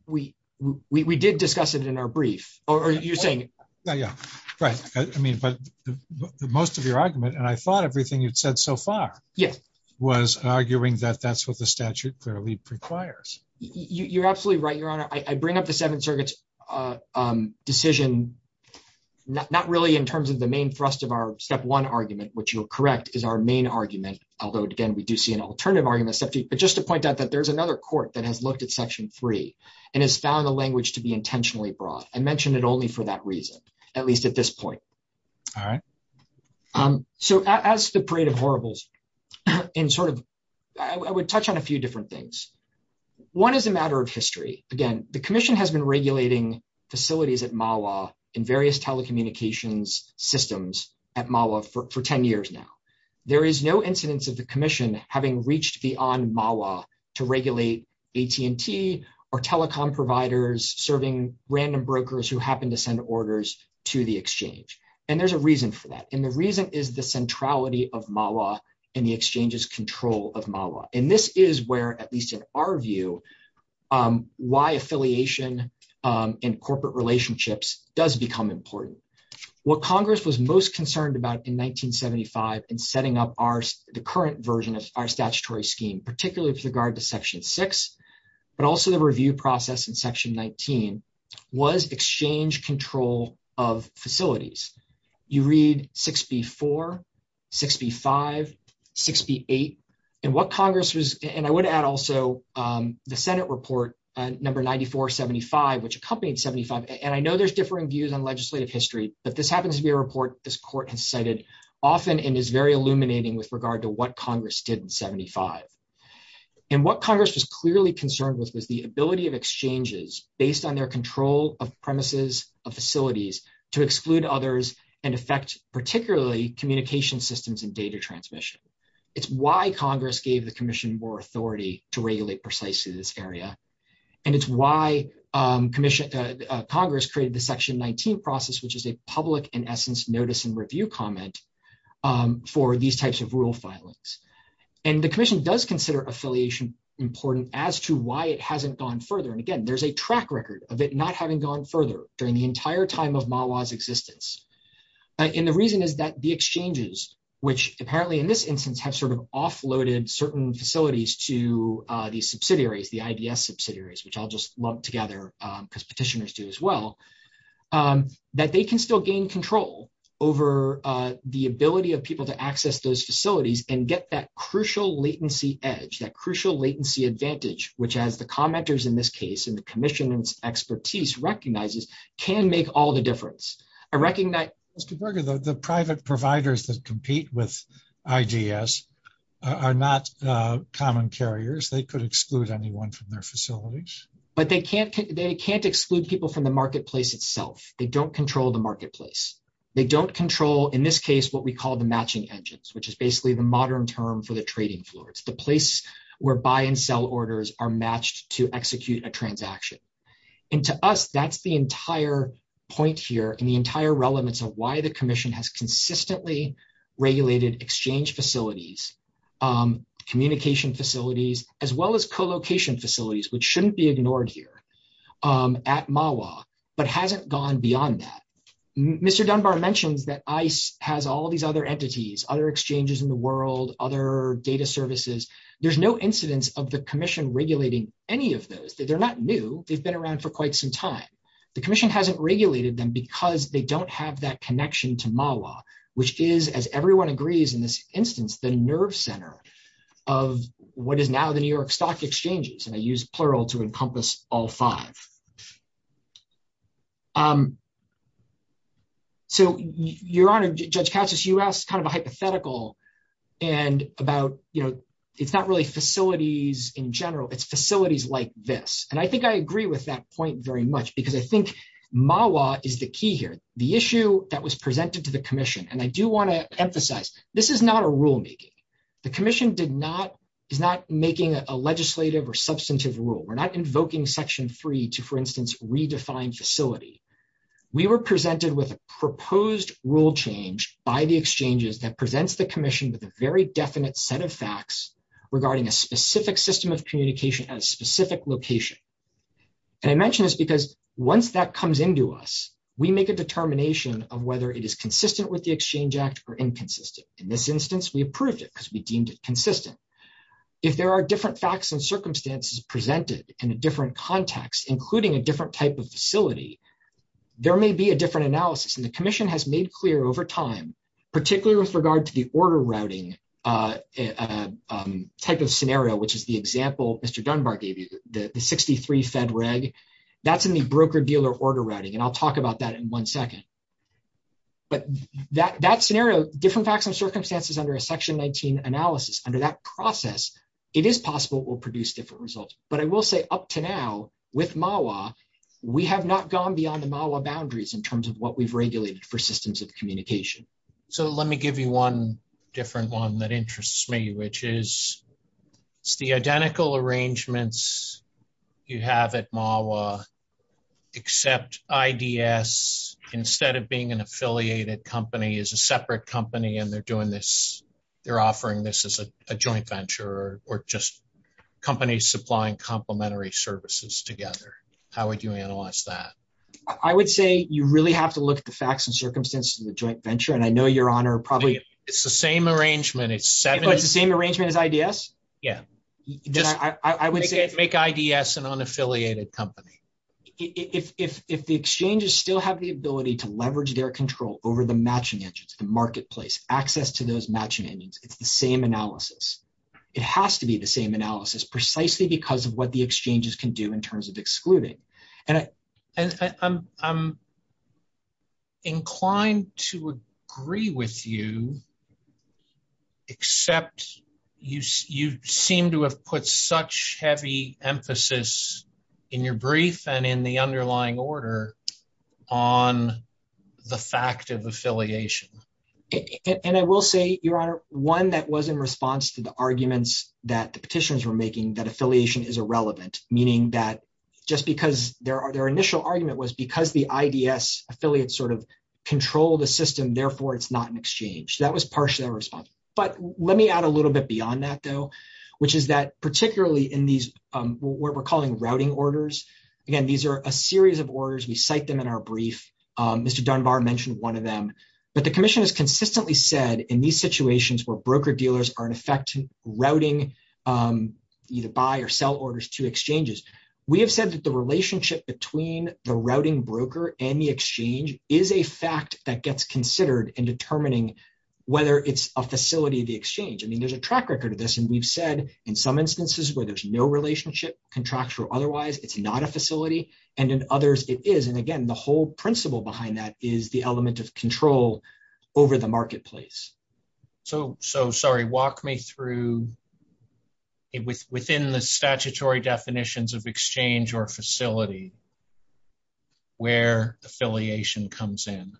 We did discuss it in our brief, or you're saying- I mean, but most of your argument, and I thought everything you've said so far, was arguing that that's what the statute clearly requires. You're absolutely right, Your Honor. I bring up the Seventh Circuit's decision, not really in terms of the main thrust of our Step 1 argument, which you'll correct, is our main argument. Although, again, we do see an alternative argument, but just to point out that there's another court that has looked at Section 3 and has found the language to be intentionally broad. I mentioned it only for that reason, at least at this point. All right. So as to Parade of Horribles, in sort of- I would touch on a few different things. One is a matter of history. Again, the Commission has been regulating facilities at MAWA in various telecommunications systems at MAWA for 10 years now. There is no incidence of the Commission having reached beyond MAWA to regulate AT&T or telecom providers serving random brokers who happen to send orders to the Exchange. And there's a reason for that. And the reason is the centrality of MAWA and the Exchange's control of MAWA. And this is where, at least in our view, why affiliation in corporate relationships does become important. What Congress was most concerned about in 1975 in setting up the current version of our statutory scheme, particularly with regard to Section 6, but also the review process in Section 19, was Exchange control of facilities. You read 6b-4, 6b-5, 6b-8. And what Congress was- and I would add also the Senate report number 94-75, which accompanied 75. And I know there's differing views on legislative history, but this happens to be a report this Court has cited often and is very illuminating with regard to what Congress did in 75. And what Congress was clearly concerned with was the ability of Exchanges, based on their control of premises, of facilities, to exclude others and affect particularly communication systems and data transmission. It's why Congress gave the Commission more authority to regulate precisely this area. And it's why Congress created the Section 19 process, which is a public, in essence, notice and review comment for these types of rule filings. And the Commission does consider affiliation important as to why it hasn't gone further. And again, there's a track record of it not having gone further during the entire time of MAWA's existence. And the reason is that the Exchanges, which apparently in this instance have sort of offloaded certain facilities to these subsidiaries, the IDS subsidiaries, which I'll just lump together, because petitioners do as well, that they can still gain control over the ability of people to access those facilities and get that crucial latency edge, that crucial latency advantage, which as the commenters in this case and the Commission's expertise recognizes, can make all the difference. I recognize... They could exclude anyone from their facilities. But they can't exclude people from the marketplace itself. They don't control the marketplace. They don't control, in this case, what we call the matching engines, which is basically the modern term for the trading floor. It's the place where buy and sell orders are matched to execute a transaction. And to us, that's the entire point here and the entire relevance of why the Commission has consistently regulated exchange facilities, communication facilities, as well as co-location facilities, which shouldn't be ignored here at MAWA, but hasn't gone beyond that. Mr. Dunbar mentioned that ICE has all these other entities, other exchanges in the world, other data services. There's no incidence of the Commission regulating any of those. They're not new. They've been around for quite some time. The Commission hasn't regulated them because they don't have that as everyone agrees in this instance, the nerve center of what is now the New York Stock Exchanges, and I use plural to encompass all five. So, Your Honor, Judge Katsas, you asked a hypothetical and about, it's not really facilities in general, it's facilities like this. And I think I agree with that point very much, because I think MAWA is the key here. The issue that was presented to Commission, and I do want to emphasize, this is not a rule meeting. The Commission did not, is not making a legislative or substantive rule. We're not invoking Section 3 to, for instance, redefine facility. We were presented with a proposed rule change by the exchanges that presents the Commission with a very definite set of facts regarding a specific system of communication at a specific location. And I mention this because once that comes into us, we make a determination of whether it is consistent with the Exchange Act or inconsistent. In this instance, we approved it because we deemed it consistent. If there are different facts and circumstances presented in a different context, including a different type of facility, there may be a different analysis. And the Commission has made clear over time, particularly with regard to the order routing type of scenario, which is the example Mr. Dunbar gave you, the 63 Fed Reg, that's in the broker-dealer order routing, and I'll talk about that in one second. But that scenario, different facts and circumstances under a Section 19 analysis, under that process, it is possible it will produce different results. But I will say up to now, with MAWA, we have not gone beyond the MAWA boundaries in terms of what we've regulated for systems of communication. So let me give you one different one that interests me, which is the identical arrangements you have at MAWA, except IDS, instead of being an affiliated company, is a separate company and they're doing this, they're offering this as a joint venture, or just companies supplying complementary services together. How would you analyze that? I would say you really have to look at the facts and circumstances of the joint venture, and I know your Honor probably... It's the same arrangement. It's the same arrangement as IDS? Yeah. Make IDS an unaffiliated company. If the exchanges still have the ability to leverage their control over the matching engines, the marketplace, access to those matching engines, it's the same analysis. It has to be the same analysis, precisely because of what the exchanges can do in terms of excluding. And I'm inclined to agree with you, except you seem to have put such heavy emphasis in your brief and in the underlying order on the fact of affiliation. And I will say, Your Honor, one that was in response to the arguments that the petitions were making, that affiliation is irrelevant. Meaning that just because their initial argument was because the IDS affiliates sort of control the system, therefore it's not an exchange. That was partially our response. But let me add a little bit beyond that though, which is that particularly in these, what we're calling routing orders. Again, these are a series of orders. We cite them in our brief. Mr. Dunbar mentioned one of them, but the commission has consistently said in these situations where broker dealers are in effect routing either buy or sell orders to exchanges. We have said that the relationship between the routing broker and the exchange is a fact that gets considered in determining whether it's a facility of the exchange. I mean, there's a track record of this, and we've said in some instances where there's no relationship, contractual or otherwise, it's not a facility. And in others it is. And again, the whole principle behind that is the element of control over the marketplace. So, sorry, walk me through within the statutory definitions of exchange or facility where affiliation comes in.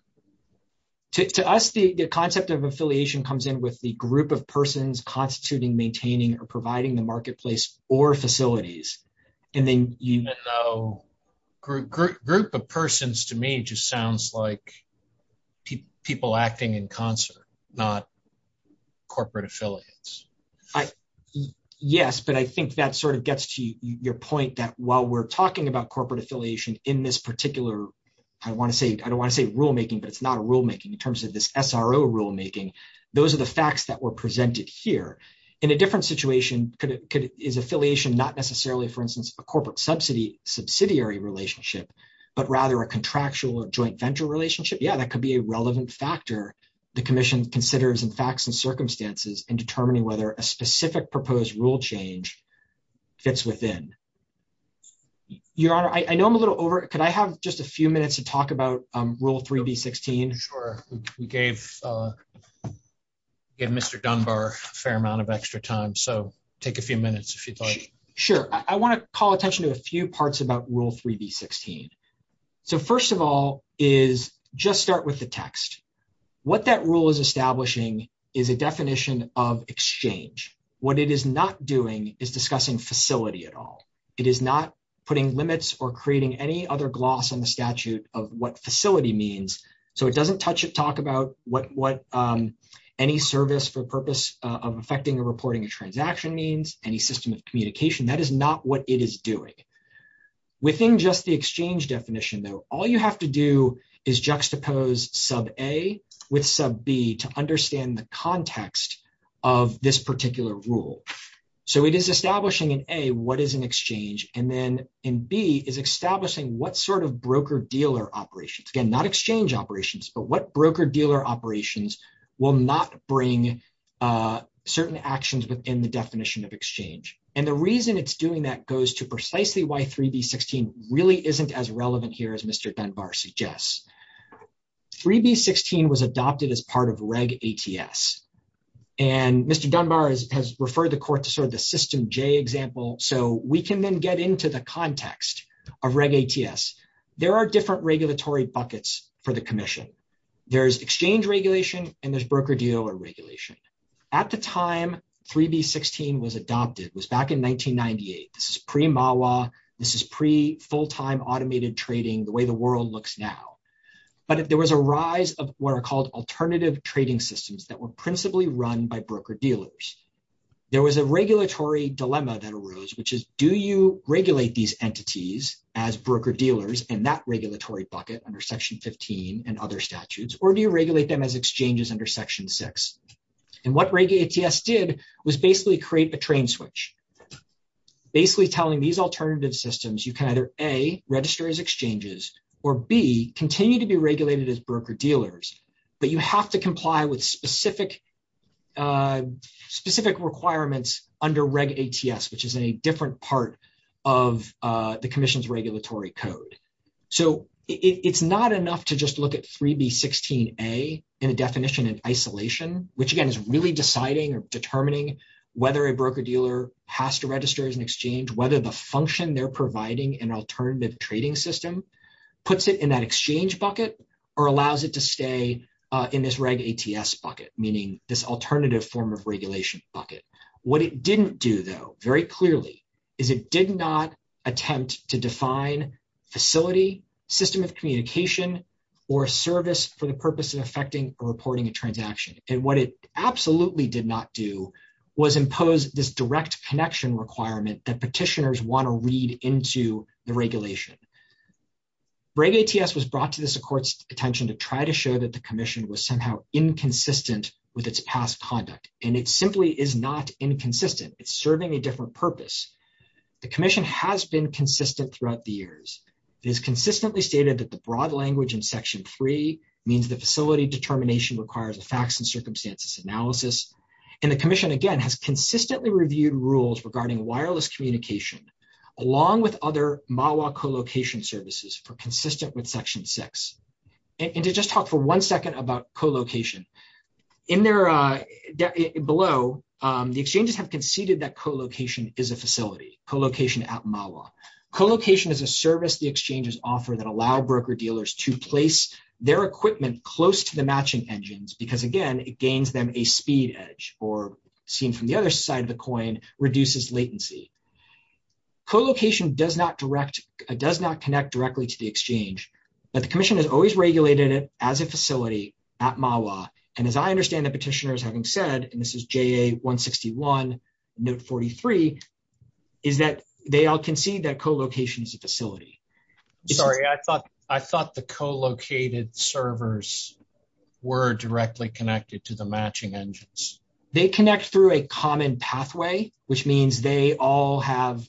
To us, the concept of affiliation comes in with the group of persons constituting, maintaining or providing the marketplace or facilities. And then even though group of persons to me just sounds like people acting in concert, not corporate affiliates. Yes, but I think that sort of gets to your point that while we're talking about corporate affiliation in this particular, I don't want to say rulemaking, but it's not a rulemaking in terms of this SRO rulemaking. Those are the facts that were presented here. In a different situation, is affiliation not necessarily, for instance, a corporate subsidiary relationship, but rather a contractual or joint venture relationship? Yeah, that could be a relevant factor the commission considers in facts and circumstances in determining whether a specific proposed rule change fits within. Your Honor, I know I'm a little over, could I have just a few minutes to talk about rule 3B16? Sure. We gave Mr. Dunbar a fair amount of extra time. So, take a few minutes if you'd like. Sure. I want to call attention to a few parts about rule 3B16. So, first of all is just start with the text. What that rule is establishing is a definition of exchange. What it is not doing is discussing facility at all. It is not putting limits or creating any other gloss on the statute of what facility means. So, it doesn't touch it, talk about what any service for the purpose of affecting the reporting of transaction means, any system of communication. That is not what it is doing. Within just the exchange definition, though, all you have to do is juxtapose sub A with sub B to understand the context of this particular rule. So, it is establishing in A what is an exchange, and then in B is operations will not bring certain actions within the definition of exchange. And the reason it's doing that goes to precisely why 3B16 really isn't as relevant here as Mr. Dunbar suggests. 3B16 was adopted as part of reg ATS. And Mr. Dunbar has referred the court to sort of the system J example. So, we can then get into the context of reg ATS. There are different regulatory buckets for the commission. There's exchange regulation, and there's broker-dealer regulation. At the time 3B16 was adopted, it was back in 1998. This is pre-MAWA. This is pre-full-time automated trading, the way the world looks now. But there was a rise of what are called alternative trading systems that were principally run by broker-dealers. There was a regulatory dilemma that arose, which is do you regulate these entities as broker-dealers in that regulatory bucket under Section 15 and other statutes, or do you regulate them as exchanges under Section 6? And what reg ATS did was basically create a train switch, basically telling these alternative systems you can either A, register as exchanges, or B, continue to be regulated as broker-dealers, but you have to comply with specific requirements under reg ATS, which is a different part of the commission's regulatory code. So, it's not enough to just look at 3B16A in a definition of isolation, which again is really deciding or determining whether a broker-dealer has to register as an exchange, whether the function they're providing in an alternative trading system puts it in that exchange bucket or allows it to stay in this reg ATS bucket, meaning this alternative form of regulation bucket. What it didn't do, very clearly, is it did not attempt to define facility, system of communication, or service for the purpose of effecting or reporting a transaction. And what it absolutely did not do was impose this direct connection requirement that petitioners want to read into the regulation. Reg ATS was brought to the court's attention to try to show that the commission was somehow inconsistent with its past conduct, and it simply is not inconsistent. It's a different purpose. The commission has been consistent throughout the years. It has consistently stated that the broad language in Section 3 means the facility determination requires a facts and circumstances analysis. And the commission, again, has consistently reviewed rules regarding wireless communication, along with other MAWA co-location services, for consistent with Section 6. And to just talk for one second about co-location, in there below, the exchanges have conceded that co-location is a facility, co-location at MAWA. Co-location is a service the exchanges offer that allow broker-dealers to place their equipment close to the matching engines because, again, it gains them a speed edge, or seen from the other side of the coin, reduces latency. Co-location does not connect directly to the exchange, but the commission has always regulated it as a facility at MAWA. And as I understand the petitioners having said, and this is JA-161, MN-43, is that they all concede that co-location is a facility. Sorry, I thought the co-located servers were directly connected to the matching engines. They connect through a common pathway, which means they all have,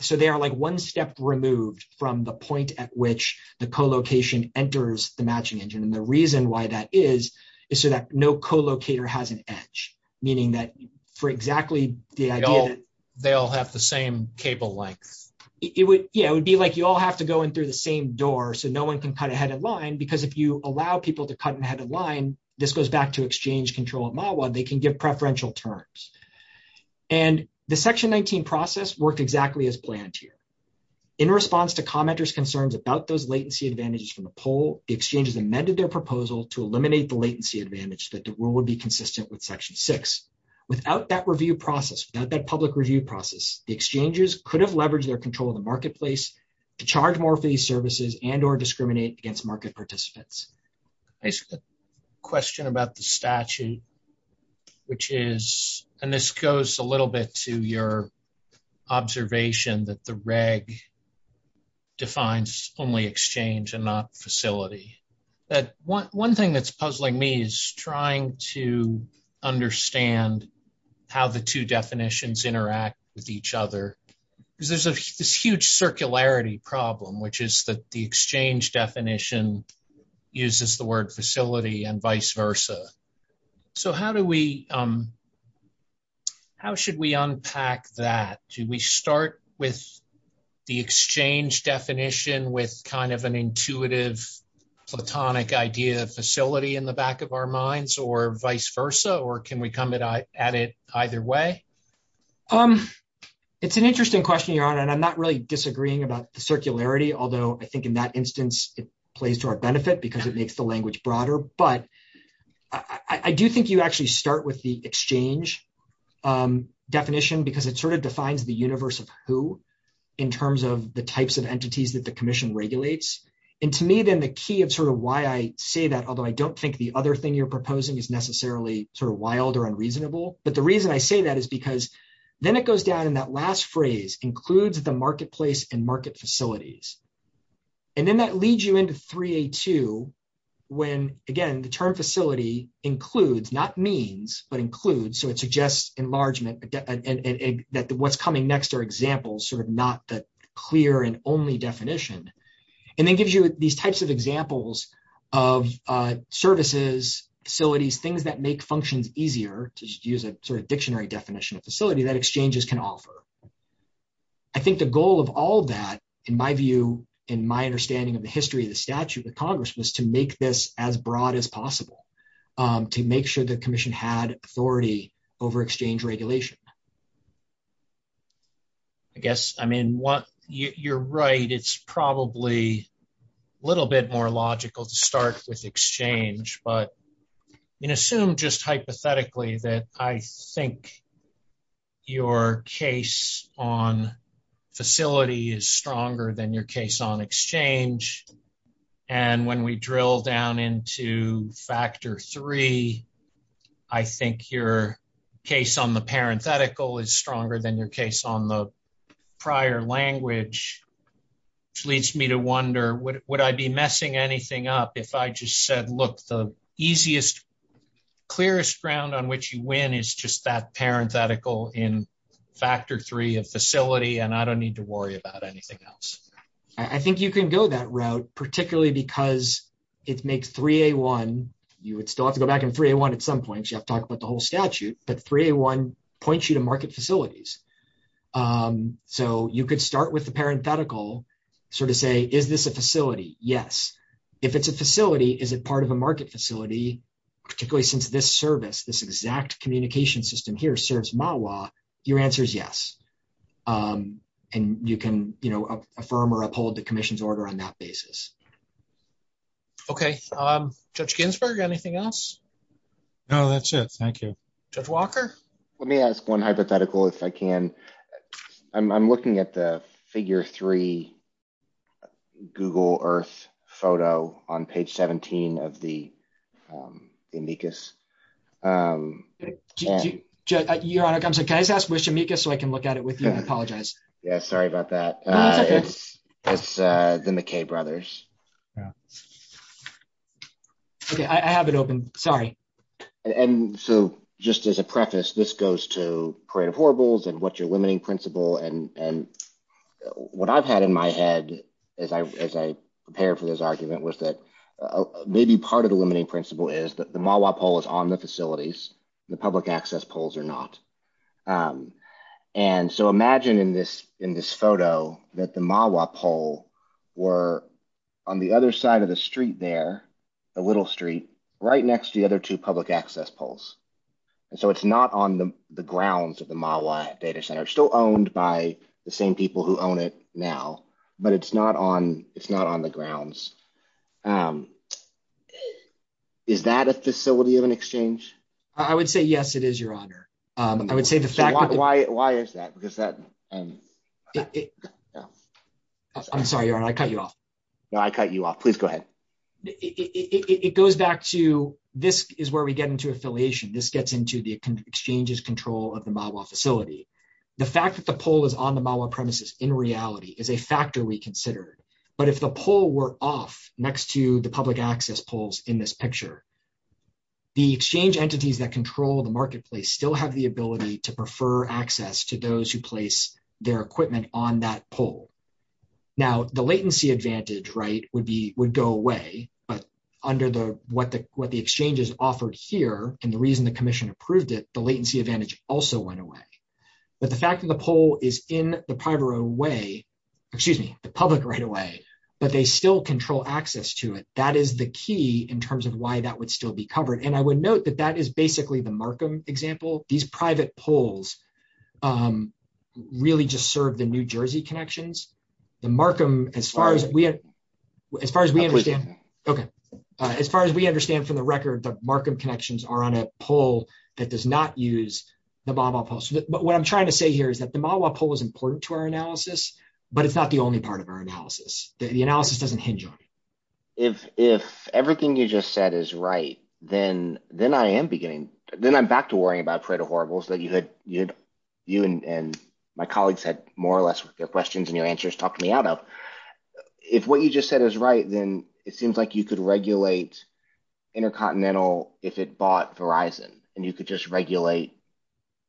so they are like one step removed from the point at which the co-location enters the matching engine. And the reason why that is, is so that no co-locator has an edge, meaning that for exactly the idea that- They all have the same cable length. It would, yeah, it would be like you all have to go in through the same door so no one can cut ahead of line, because if you allow people to cut ahead of line, this goes back to exchange control at MAWA, they can give preferential turns. And the Section 19 process worked exactly as planned here. In response to commenters' concerns about those latency advantages from the poll, the exchanges amended their proposal to eliminate the latency advantage that would be consistent with Section 6. Without that review process, without that public review process, the exchanges could have leveraged their control of the marketplace to charge more for these services and or discriminate against market participants. There's a question about the statute, which is, and this goes a reg, defines only exchange and not facility. But one thing that's puzzling me is trying to understand how the two definitions interact with each other. There's a huge circularity problem, which is that the exchange definition uses the word facility and vice versa. So how do we, how should we unpack that? Do we start with the exchange definition with kind of an intuitive platonic idea of facility in the back of our minds or vice versa? Or can we come at it either way? It's an interesting question, Your Honor, and I'm not really disagreeing about the circularity, although I think in that instance it plays to our benefit because it makes the language broader. But I do think you actually start with the exchange definition because it sort of defines the universe of who in terms of the types of entities that the Commission regulates. And to me then the key of sort of why I say that, although I don't think the other thing you're proposing is necessarily sort of wild or unreasonable, but the reason I say that is because then it goes down in that last phrase, includes the marketplace and market facilities. And then that leads you into 3A2 when, again, the term facility includes, not means, but includes. So it suggests enlargement that what's coming next are examples, sort of not the clear and only definition. And that gives you these types of examples of services, facilities, things that make functioning easier to use a sort of dictionary definition of facility that exchanges can offer. I think the goal of all that in my view, in my understanding of the history of the statute, the Congress was to make this as broad as possible to make sure the Commission had authority over exchange regulation. I guess, I mean, you're right. It's probably a little bit more logical to start with exchange, but assume just hypothetically that I think your case on facility is stronger than your case on exchange. And when we drill down into factor three, I think your case on the parenthetical is stronger than your case on the prior language, which leads me to wonder, would I be messing anything up if I just said, look, the easiest, clearest ground on which you win is just that parenthetical in factor three of facility, and I don't need to worry about anything else. I think you can go that route, particularly because it makes 3A1, you would still have to go back in 3A1 at some point, you have to talk about the whole statute, but 3A1 points you to market facilities. So you could start with the parenthetical, sort of say, is this a facility? Yes. If it's a facility, is it part of a market facility, particularly since this service, this exact communication system here serves MAWA, your answer is yes. And you can, you know, affirm or uphold the Commission's order on that basis. Okay. Judge Ginsburg, anything else? No, that's it. Thank you. Judge Walker? Let me ask one hypothetical, if I can. I'm looking at the figure three Google Earth photo on page 17 of the amicus. Your Honor, can I just ask which amicus so I can look at it with you? I apologize. Yeah. Sorry about that. It's the McKay brothers. Okay. I have it open. Sorry. And so just as a preface, this goes to what your limiting principle and what I've had in my head as I prepare for this argument was that maybe part of the limiting principle is that the MAWA poll is on the facilities, the public access polls are not. And so imagine in this photo that the MAWA poll were on the other side of the street there, the little street, right next to the other two public access polls. And so it's not on the grounds of the MAWA data center, still owned by the same people who own it now, but it's not on, it's not on the grounds. Is that a facility of an exchange? I would say, yes, it is, your Honor. I would say the fact that... Why is that? Because that... I'm sorry, your Honor, I cut you off. No, I cut you off. Please go ahead. It goes back to, this is where we get into affiliation. This gets into the exchange's control of the MAWA facility. The fact that the poll is on the MAWA premises in reality is a factor we consider, but if the poll were off next to the public access polls in this picture, the exchange entities that control the marketplace still have the ability to prefer access to those who place their equipment on that poll. Now the latency advantage, right, would go away, but under what the exchange has offered here, and the reason the commission approved it, the latency advantage also went away. But the fact that the poll is in the public right away, but they still control access to it, that is the key in terms of why that would still be covered. And I would note that that is basically the Markham example. These private polls really just serve the New Jersey connections. The Markham, as far as we understand from the record, the Markham connections are on a poll that does not use the MAWA poll. But what I'm trying to say here is that the MAWA poll is important to our analysis, but it's not the only part of our analysis. The analysis doesn't hinge on it. If everything you just said is right, then I am beginning, then I'm back to worrying about Pareto Horribles that you and my colleagues had more or less with their questions and your answers talked me out of. If what you just said is right, then it seems like you could regulate Intercontinental if it bought Verizon, and you could just regulate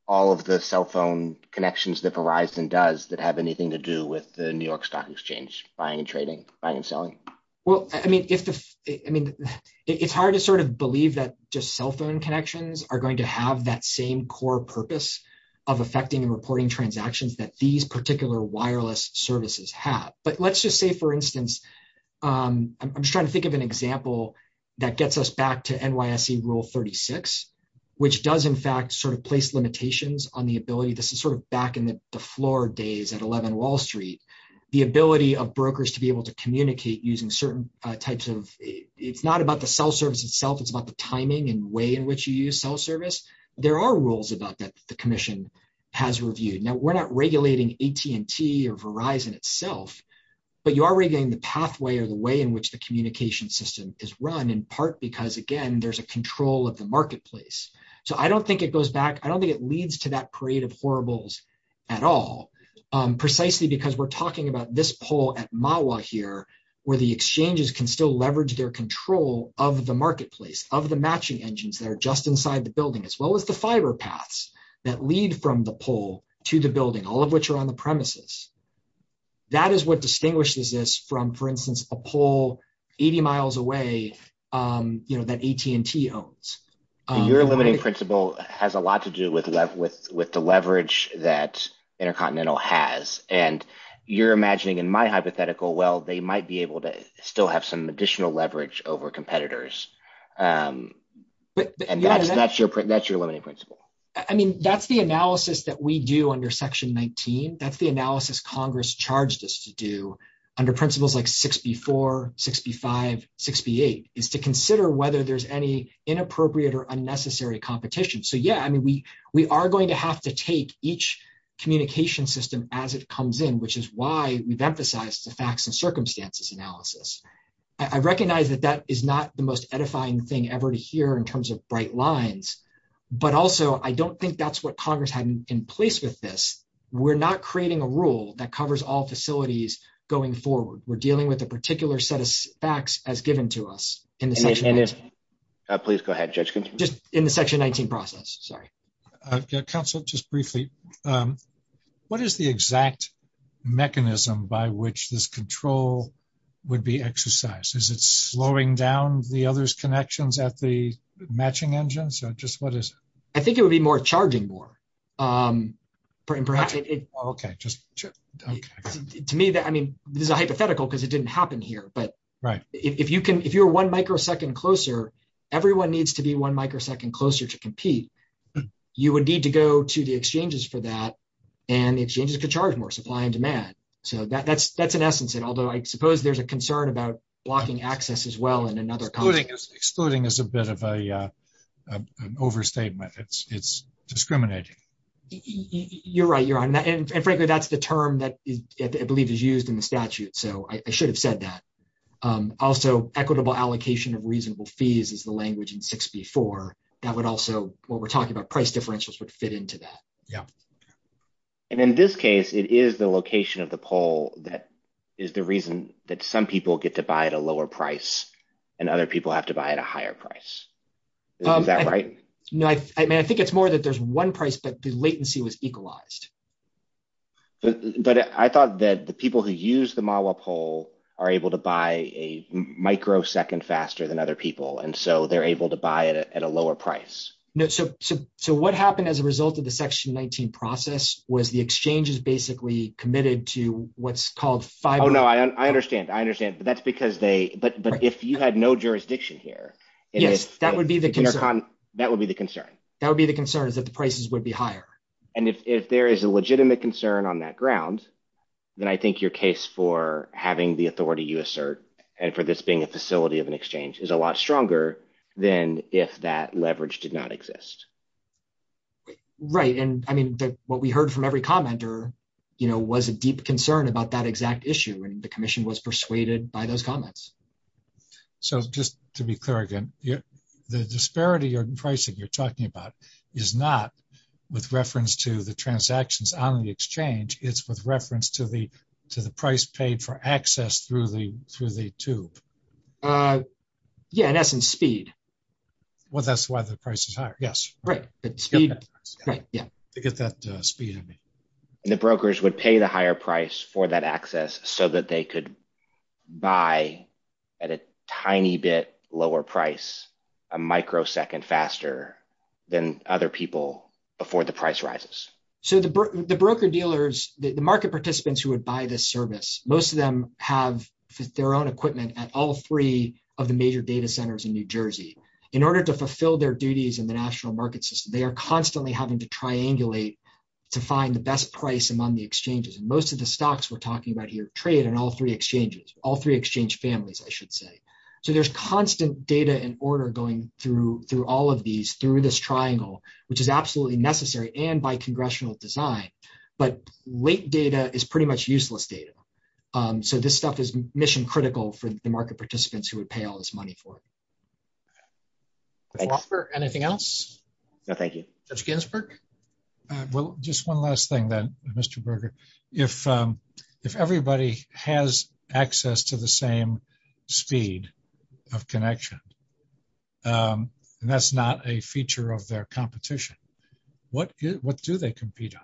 all of the cell phone connections that Verizon does that have anything to do with the New York Stock Exchange buying and trading, buying and selling. Well, I mean, it's hard to sort of believe that just cell phone connections are going to have that same core purpose of affecting and reporting transactions that these particular wireless services have. But let's just say, for instance, I'm trying to think of an example that gets us back to NYSE rule 36, which does in fact sort of place limitations on the ability, this is sort of back in the floor days at 11 Wall Street, the ability of brokers to be able to communicate using certain types of, it's not about the cell service itself, it's about the timing and way in which you use cell service. There are rules about that the commission has reviewed. Now, we're not regulating AT&T or Verizon itself, but you are regulating the pathway or the way in which the communication system is run in part, because again, there's a control of the marketplace. So I don't think it goes back, I don't think it leads to that parade of horribles at all, precisely because we're talking about this poll at MAWA here, where the exchanges can still leverage their control of the marketplace, of the matching engines that are just inside the building, as well as the fiber paths that lead from the poll to the building, all of which are on the premises. That is what distinguishes this from, for instance, a poll 80 miles away, that AT&T owns. Your limiting principle has a lot to do with the leverage that Intercontinental has, and you're imagining in my hypothetical, well, they might be able to still have some additional leverage over competitors. That's your limiting principle. I mean, that's the analysis that we do under section 19. That's the analysis Congress charged us to do under principles like 6B4, 6B5, 6B8, is to consider whether there's any inappropriate or unnecessary competition. So yeah, I mean, we are going to have to take each communication system as it comes in, which is why we've emphasized the facts and circumstances analysis. I recognize that that is not the most edifying thing ever to hear in terms of bright lines, but also, I don't think that's what Congress had in place with this. We're not creating a rule that covers all facilities going forward. We're dealing with a particular set of facts as given to us. Please go ahead, Judge. Just in the section 19 process. Sorry. Counselor, just briefly, what is the exact mechanism by which this control would be exercised? Is it slowing down the other's connections at the matching engines or just what is it? I think it would be more charging more. Okay. To me, I mean, this is a hypothetical because it didn't happen here, but if you're one microsecond closer, everyone needs to be one microsecond closer to compete. You would need to go to the exchanges for that and exchanges could charge more supply and demand. So that's an essence. And although I suppose there's a concern about blocking access as well in another context. Excluding is a bit of an overstatement. It's discriminating. You're right. You're right. And frankly, that's the term that I believe is used in the statute. So I should have said that. Also equitable allocation of reasonable fees is the language in 64. That would also, what we're talking about, price differentials would fit into that. Yeah. And in this case, it is the location of the poll that is the reason that some people get to buy at a lower price and other people have to buy at a higher price. Is that right? I mean, I think it's more that there's one price, but the latency was equalized. But I thought that the people who use the Mahwah poll are able to buy a microsecond faster than other people. And so they're able to buy it at a lower price. So what happened as a result of the section 19 process was the exchanges basically committed to what's called... Oh, no, I understand. I understand. But that's because they, but if you had no jurisdiction here... Yes, that would be the concern. That would be the concern. That would be the concern is that the prices would be higher. And if there is a legitimate concern on that ground, then I think your case for having the authority you assert and for this being a facility of an exchange is a lot stronger than if that leverage did not exist. Right. And I mean, what we heard from every commenter was a deep concern about that exact issue. And the commission was persuaded by those comments. So just to be clear again, the disparity in pricing you're talking about is not with reference to the transactions on the exchange, it's with reference to the price paid for access through the tube. Yeah, in essence, speed. Well, that's why the price is higher. Yes. Right. Yeah. To get that speed. And the brokers would pay the higher price for that access so that they could buy at a tiny bit lower price, a microsecond faster than other people before the price rises. So the broker dealers, the market participants who would buy this service, most of them have their own equipment at all three of the major data centers in New Jersey. In order to fulfill their duties in the national market system, they are constantly having to triangulate to find the best price among the exchanges. And most of the stocks we're talking about here, trade and all three exchanges, all three exchange families, I should say. So there's constant data and order going through all of these, through this triangle, which is absolutely necessary and by congressional design. But late data is pretty much useless data. So this stuff is mission critical for the market participants who would pay all this money for. Anything else? No, thank you. Mr. Ginsberg? Well, just one last thing then, Mr. Berger. If everybody has access to the same speed of connection, and that's not a feature of their competition, what do they compete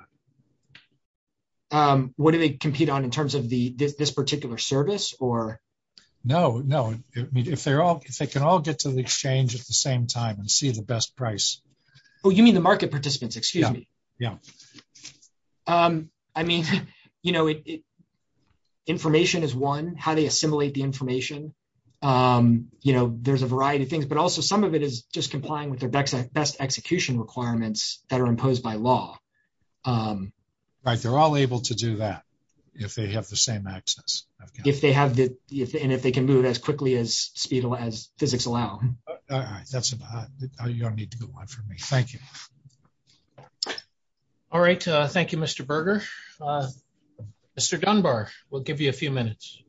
on? What do they compete on in terms of this particular service or? No, no. If they can all get to the exchange at the same time and see the best price. Oh, you mean the market participants, excuse me? Yeah. I mean, information is one, how they assimilate the information. There's a variety of things, but also some of it is just complying with their best execution requirements that are imposed by law. Right, they're all able to do that if they have the same access. If they have the, and if they can do it as quickly as physics allow. All right. That's a good one for me. Thank you. All right. Thank you, Mr. Berger. Mr. Dunbar, we'll give you a few minutes.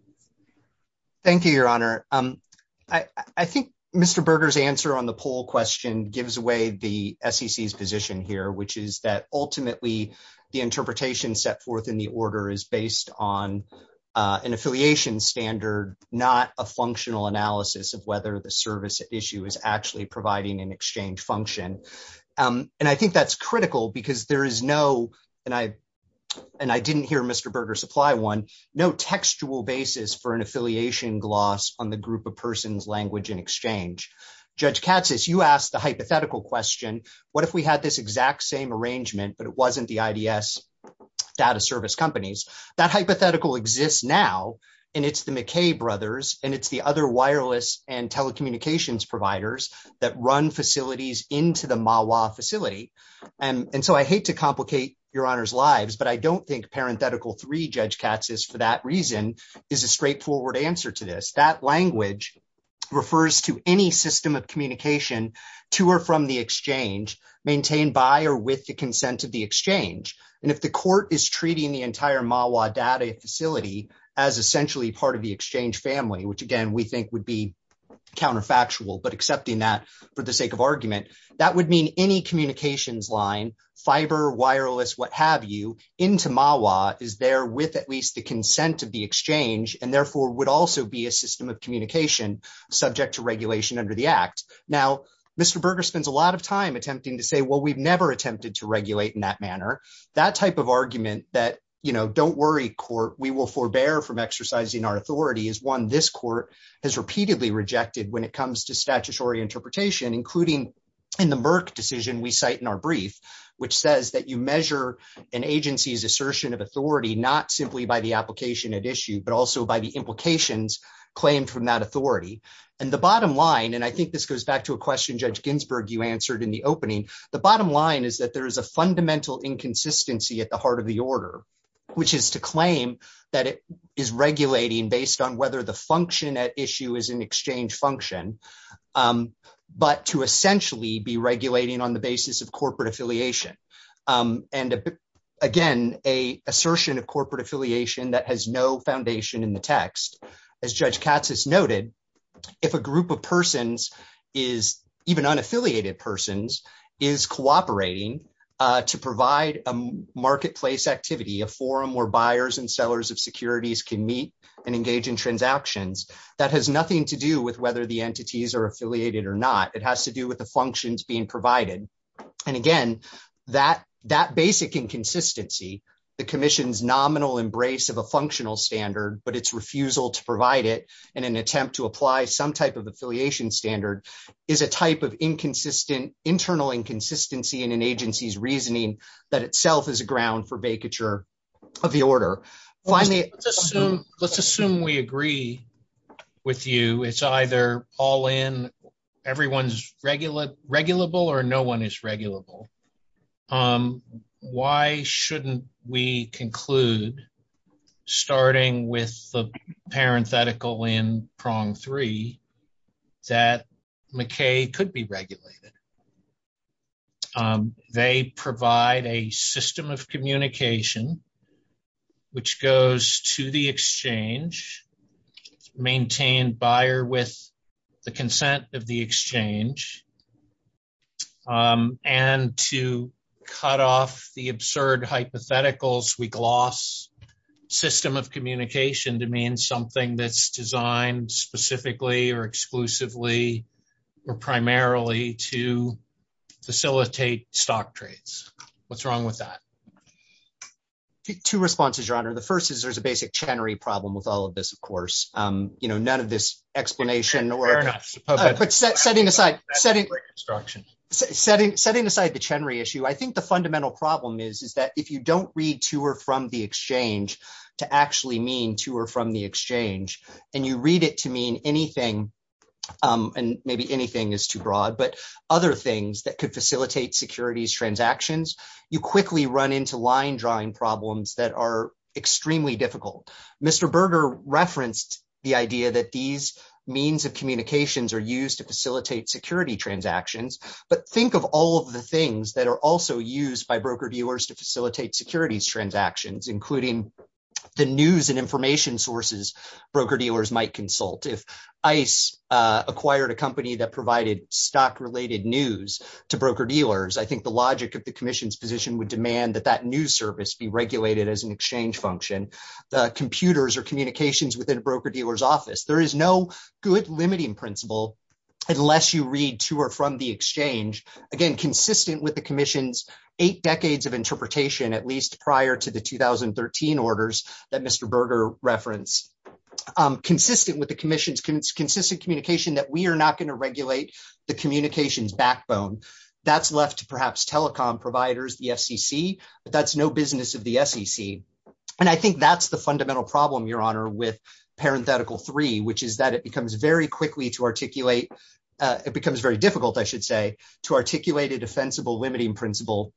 Thank you, Your Honor. I think Mr. Berger's answer on the poll question gives away the SEC's position here, which is that ultimately the interpretation set forth in the order is based on affiliation standard, not a functional analysis of whether the service issue is actually providing an exchange function. And I think that's critical because there is no, and I didn't hear Mr. Berger supply one, no textual basis for an affiliation gloss on the group of persons, language, and exchange. Judge Katsas, you asked the hypothetical question, what if we had this exact same it's the McKay brothers and it's the other wireless and telecommunications providers that run facilities into the MAWA facility. And so I hate to complicate Your Honor's lives, but I don't think parenthetical three, Judge Katsas, for that reason is a straightforward answer to this. That language refers to any system of communication to or from the exchange maintained by or with the consent of the exchange. And if the court is treating the entire MAWA data facility as essentially part of the exchange family, which again, we think would be counterfactual, but accepting that for the sake of argument, that would mean any communications line, fiber, wireless, what have you, into MAWA is there with at least the consent of the exchange and therefore would also be a system of communication subject to regulation under the act. Now, Mr. Berger spends a lot of time attempting to say, well, we've never attempted to regulate in that manner. That type of argument that, you know, don't worry court, we will forbear from exercising our authority is one this court has repeatedly rejected when it comes to statutory interpretation, including in the Merck decision we cite in our brief, which says that you measure an agency's assertion of authority, not simply by the application at issue, but also by the implications claimed from that authority. And the bottom line, and I think this goes back to a question, Judge Ginsburg, you answered in the opening. The bottom line is that there is a fundamental inconsistency at the heart of the order, which is to claim that it is regulating based on whether the function at issue is an exchange function, but to essentially be regulating on the basis of corporate affiliation. And again, a assertion of corporate affiliation that has no foundation in the text. As Judge Katsas noted, if a group of persons is even unaffiliated persons is cooperating to provide a marketplace activity, a forum where buyers and sellers of securities can meet and engage in transactions that has nothing to do with whether the entities are affiliated or not. It has to do with the functions being provided. And again, that basic inconsistency, the commission's nominal embrace of a functional standard, but its refusal to provide it in an attempt to apply some type of affiliation standard is a type of inconsistent internal inconsistency in an agency's reasoning that itself is a ground for vacature of the order. Let's assume we agree with you. It's either all in, everyone's regulable or no one is regulable. Why shouldn't we conclude starting with the parenthetical in prong three that McKay could be regulated? They provide a system of communication, which goes to the exchange, maintain buyer with the consent of the exchange, and to cut off the absurd hypotheticals, we gloss system of communication to mean something that's specifically or exclusively or primarily to facilitate stock trades. What's wrong with that? Two responses, your honor. The first is there's a basic Chenry problem with all of this, of course, you know, none of this explanation or setting aside the Chenry issue. I think the fundamental problem is, is that if you don't read to or from the exchange to actually mean to or from the exchange, and you read it to mean anything, and maybe anything is too broad, but other things that could facilitate securities transactions, you quickly run into line drawing problems that are extremely difficult. Mr. Berger referenced the idea that these means of communications are used to facilitate security transactions, but think of all of the things that are also used by broker dealers might consult. If ICE acquired a company that provided stock-related news to broker dealers, I think the logic of the commission's position would demand that that news service be regulated as an exchange function. Computers or communications within a broker dealer's office, there is no good limiting principle unless you read to or from the exchange, again, consistent with the commission's eight decades of interpretation, at least prior to the 2013 orders that Mr. Berger referenced, consistent with the commission's consistent communication that we are not going to regulate the communications backbone. That's left to perhaps telecom providers, the FCC, but that's no business of the SEC. And I think that's the fundamental problem, Your Honor, with parenthetical three, which is that it becomes very quickly to articulate, it becomes very difficult, I should say, to articulate a defensible limiting principle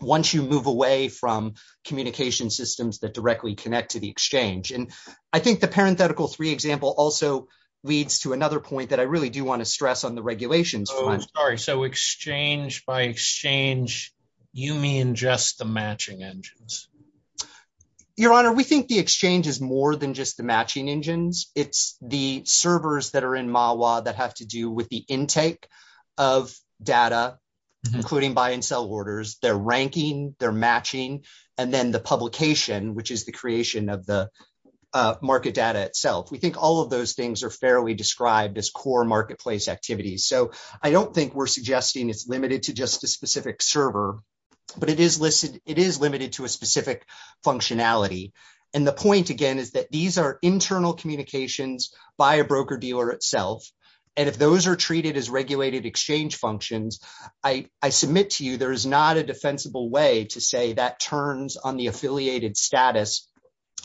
once you move away from communication systems that directly connect to the exchange. And I think the parenthetical three example also leads to another point that I really do want to stress on the regulations. Oh, I'm sorry. So exchange by exchange, you mean just the matching engines? Your Honor, we think the exchange is more than just the matching engines. It's the servers that are in MAWA that have to do with the intake of data, including buy and sell orders. They're which is the creation of the market data itself. We think all of those things are fairly described as core marketplace activities. So I don't think we're suggesting it's limited to just the specific server, but it is limited to a specific functionality. And the point again is that these are internal communications by a broker dealer itself. And if those are treated as regulated exchange functions, I submit to you, there is not a defensible way to say that turns on the affiliated status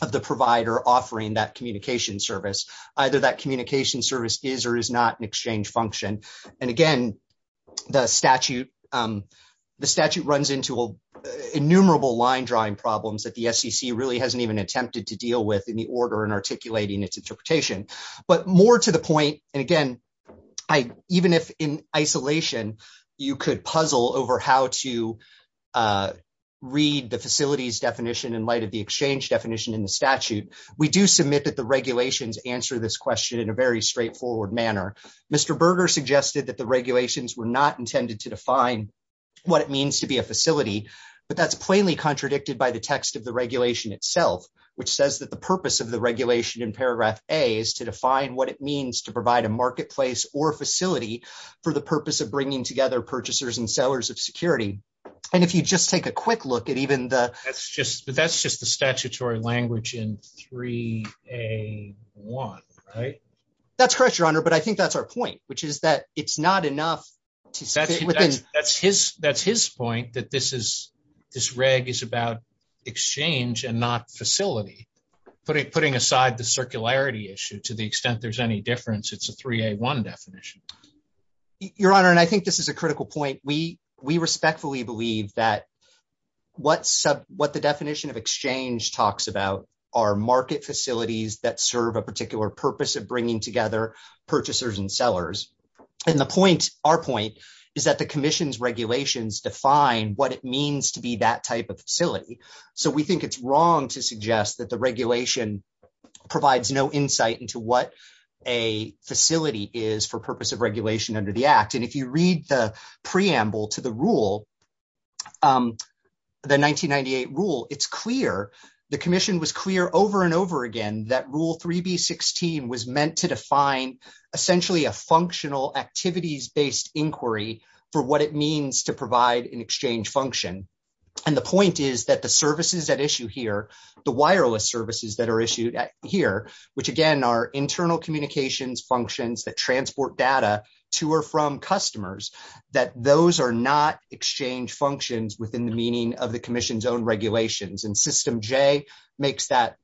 of the provider offering that communication service. Either that communication service is or is not an exchange function. And again, the statute runs into innumerable line drawing problems that the SEC really hasn't even attempted to deal with in the order and articulating its interpretation. But more to the point, and again, even if in a read the facilities definition in light of the exchange definition in the statute, we do submit that the regulations answer this question in a very straightforward manner. Mr. Berger suggested that the regulations were not intended to define what it means to be a facility, but that's plainly contradicted by the text of the regulation itself, which says that the purpose of the regulation in paragraph A is to define what it means to provide a marketplace or facility for the purpose of bringing together purchasers and sellers of security. And if you just take a quick look at even the- That's just the statutory language in 3A1, right? That's correct, your honor. But I think that's our point, which is that it's not enough- That's his point, that this reg is about exchange and not facility. Putting aside the circularity issue, to the extent there's any difference, it's a 3A1 definition. Your honor, and I think this is a critical point. We respectfully believe that what the definition of exchange talks about are market facilities that serve a particular purpose of bringing together purchasers and sellers. And our point is that the commission's regulations define what it means to that type of facility. So we think it's wrong to suggest that the regulation provides no insight into what a facility is for purpose of regulation under the act. And if you read the preamble to the rule, the 1998 rule, it's clear, the commission was clear over and over again, that rule 3B16 was meant to define essentially a functional activities-based inquiry for what it means to and the point is that the services at issue here, the wireless services that are issued here, which again are internal communications functions that transport data to or from customers, that those are not exchange functions within the meaning of the commission's own regulations. And system J makes that,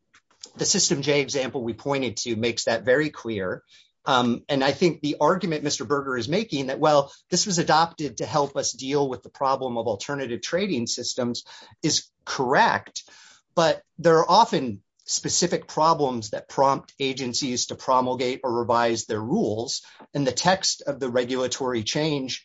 the system J example we pointed to makes that very clear. And I think the argument Mr. Berger is making that, well, this was adopted to help us deal with the problem of alternative trading systems is correct, but there are often specific problems that prompt agencies to promulgate or revise their rules and the text of the regulatory change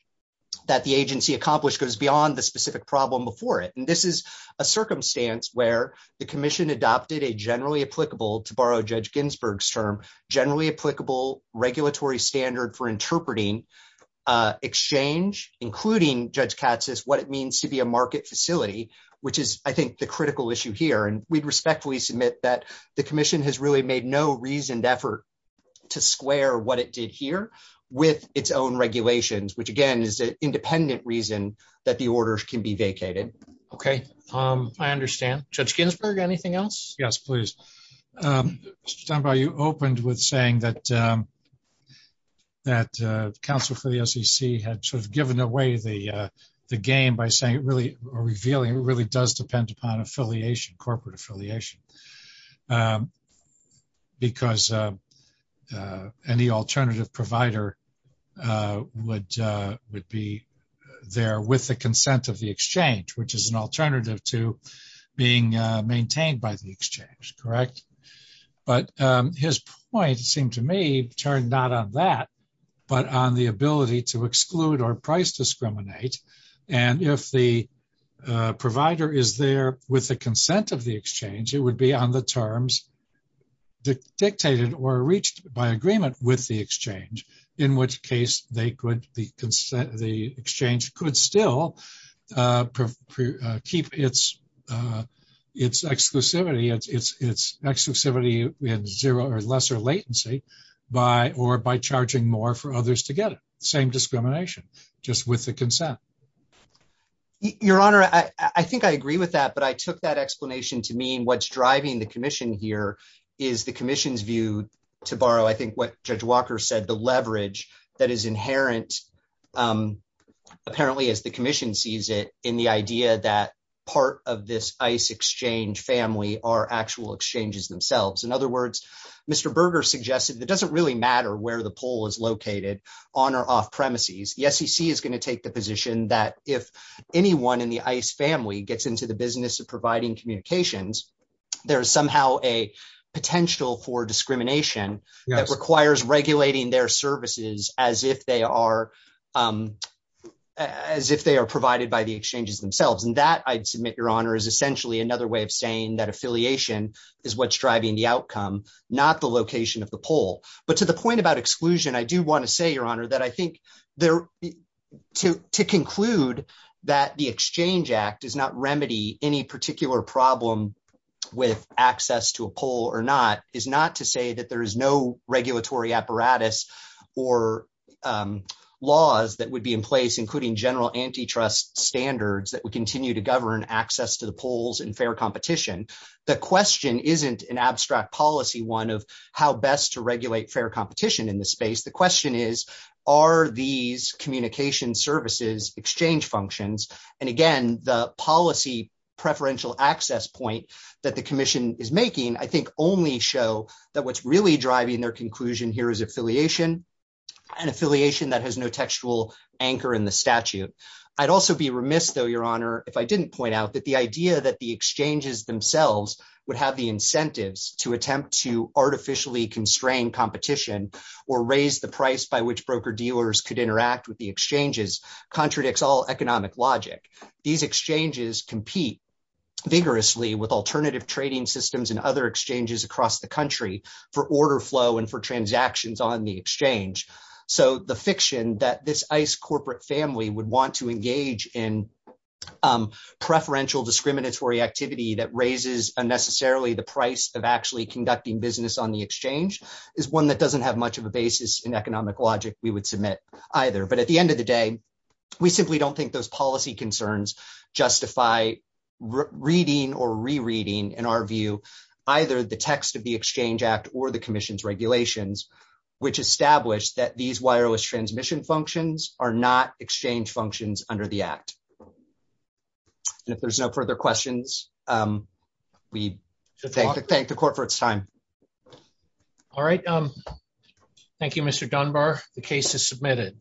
that the agency accomplished goes beyond the specific problem before it. And this is a circumstance where the commission adopted a generally applicable, to borrow Judge Ginsburg's generally applicable regulatory standard for interpreting exchange, including Judge Katz's, what it means to be a market facility, which is I think the critical issue here. And we'd respectfully submit that the commission has really made no reasoned effort to square what it did here with its own regulations, which again is an independent reason that the order can be vacated. Okay. I understand. Judge Ginsburg, anything else? Yes, please. Mr. Steinbaugh, you opened with saying that council for the SEC had sort of given away the game by saying it really, or revealing it really does depend upon affiliation, corporate affiliation, because any alternative provider would be there with the consent of the exchange, which is an alternative to being maintained by the exchange, correct? But his point seemed to me turned not on that, but on the ability to exclude or price discriminate. And if the provider is there with the consent of the exchange, it would be on the terms dictated or reached by agreement with the exchange, in which case the exchange could still keep its exclusivity in zero or lesser latency by, or by charging more for others to get it. Same discrimination, just with the consent. Your Honor, I think I agree with that, but I took that explanation to mean what's driving the commission here is the commission's view to borrow. I think what Judge Walker said, the leverage that is inherent, apparently as the commission sees it, in the idea that part of this ICE exchange family are actual exchanges themselves. In other words, Mr. Berger suggested that it doesn't really matter where the poll is located on or off premises. The SEC is going to take the position that if anyone in the ICE family gets into the business of providing communications, there is somehow a potential for discrimination that requires regulating their services as if they are provided by the exchanges themselves. And that I'd submit, Your Honor, is essentially another way of saying that affiliation is what's driving the outcome, not the location of the poll. But to the point about exclusion, I do want to say, Your Honor, that I think to conclude that the Exchange Act does not remedy any particular problem with access to a poll or not, is not to say that there is no regulatory apparatus or laws that would be in place, including general antitrust standards that would continue to govern access to the polls and fair competition. The question isn't an abstract policy one of how best to regulate fair competition in this space. The question is, are these communication services exchange functions? And again, the policy preferential access point that the commission is making, I think only show that what's really driving their conclusion here is affiliation and affiliation that has no textual anchor in the statute. I'd also be remiss though, Your Honor, if I didn't point out that the idea that the exchanges themselves would have the incentives to attempt to artificially constrain competition or raise the price by which broker dealers could interact with the exchanges contradicts all economic logic. These exchanges compete vigorously with alternative trading systems and other exchanges across the country for order flow and for transactions on the exchange. So the fiction that this ICE corporate family would want to engage in preferential discriminatory activity that raises unnecessarily the price of actually conducting business on the exchange is one that doesn't have much of a basis in economic logic we would submit either. But at the end of the day, we simply don't think those policy concerns justify reading or rereading, in our view, either the text of the Exchange Act or the commission's regulations, which established that these wireless transmission functions are not exchange functions under the Act. And if there's no further questions, we thank the court for its time. All right. Thank you, Mr. Dunbar. The case is submitted.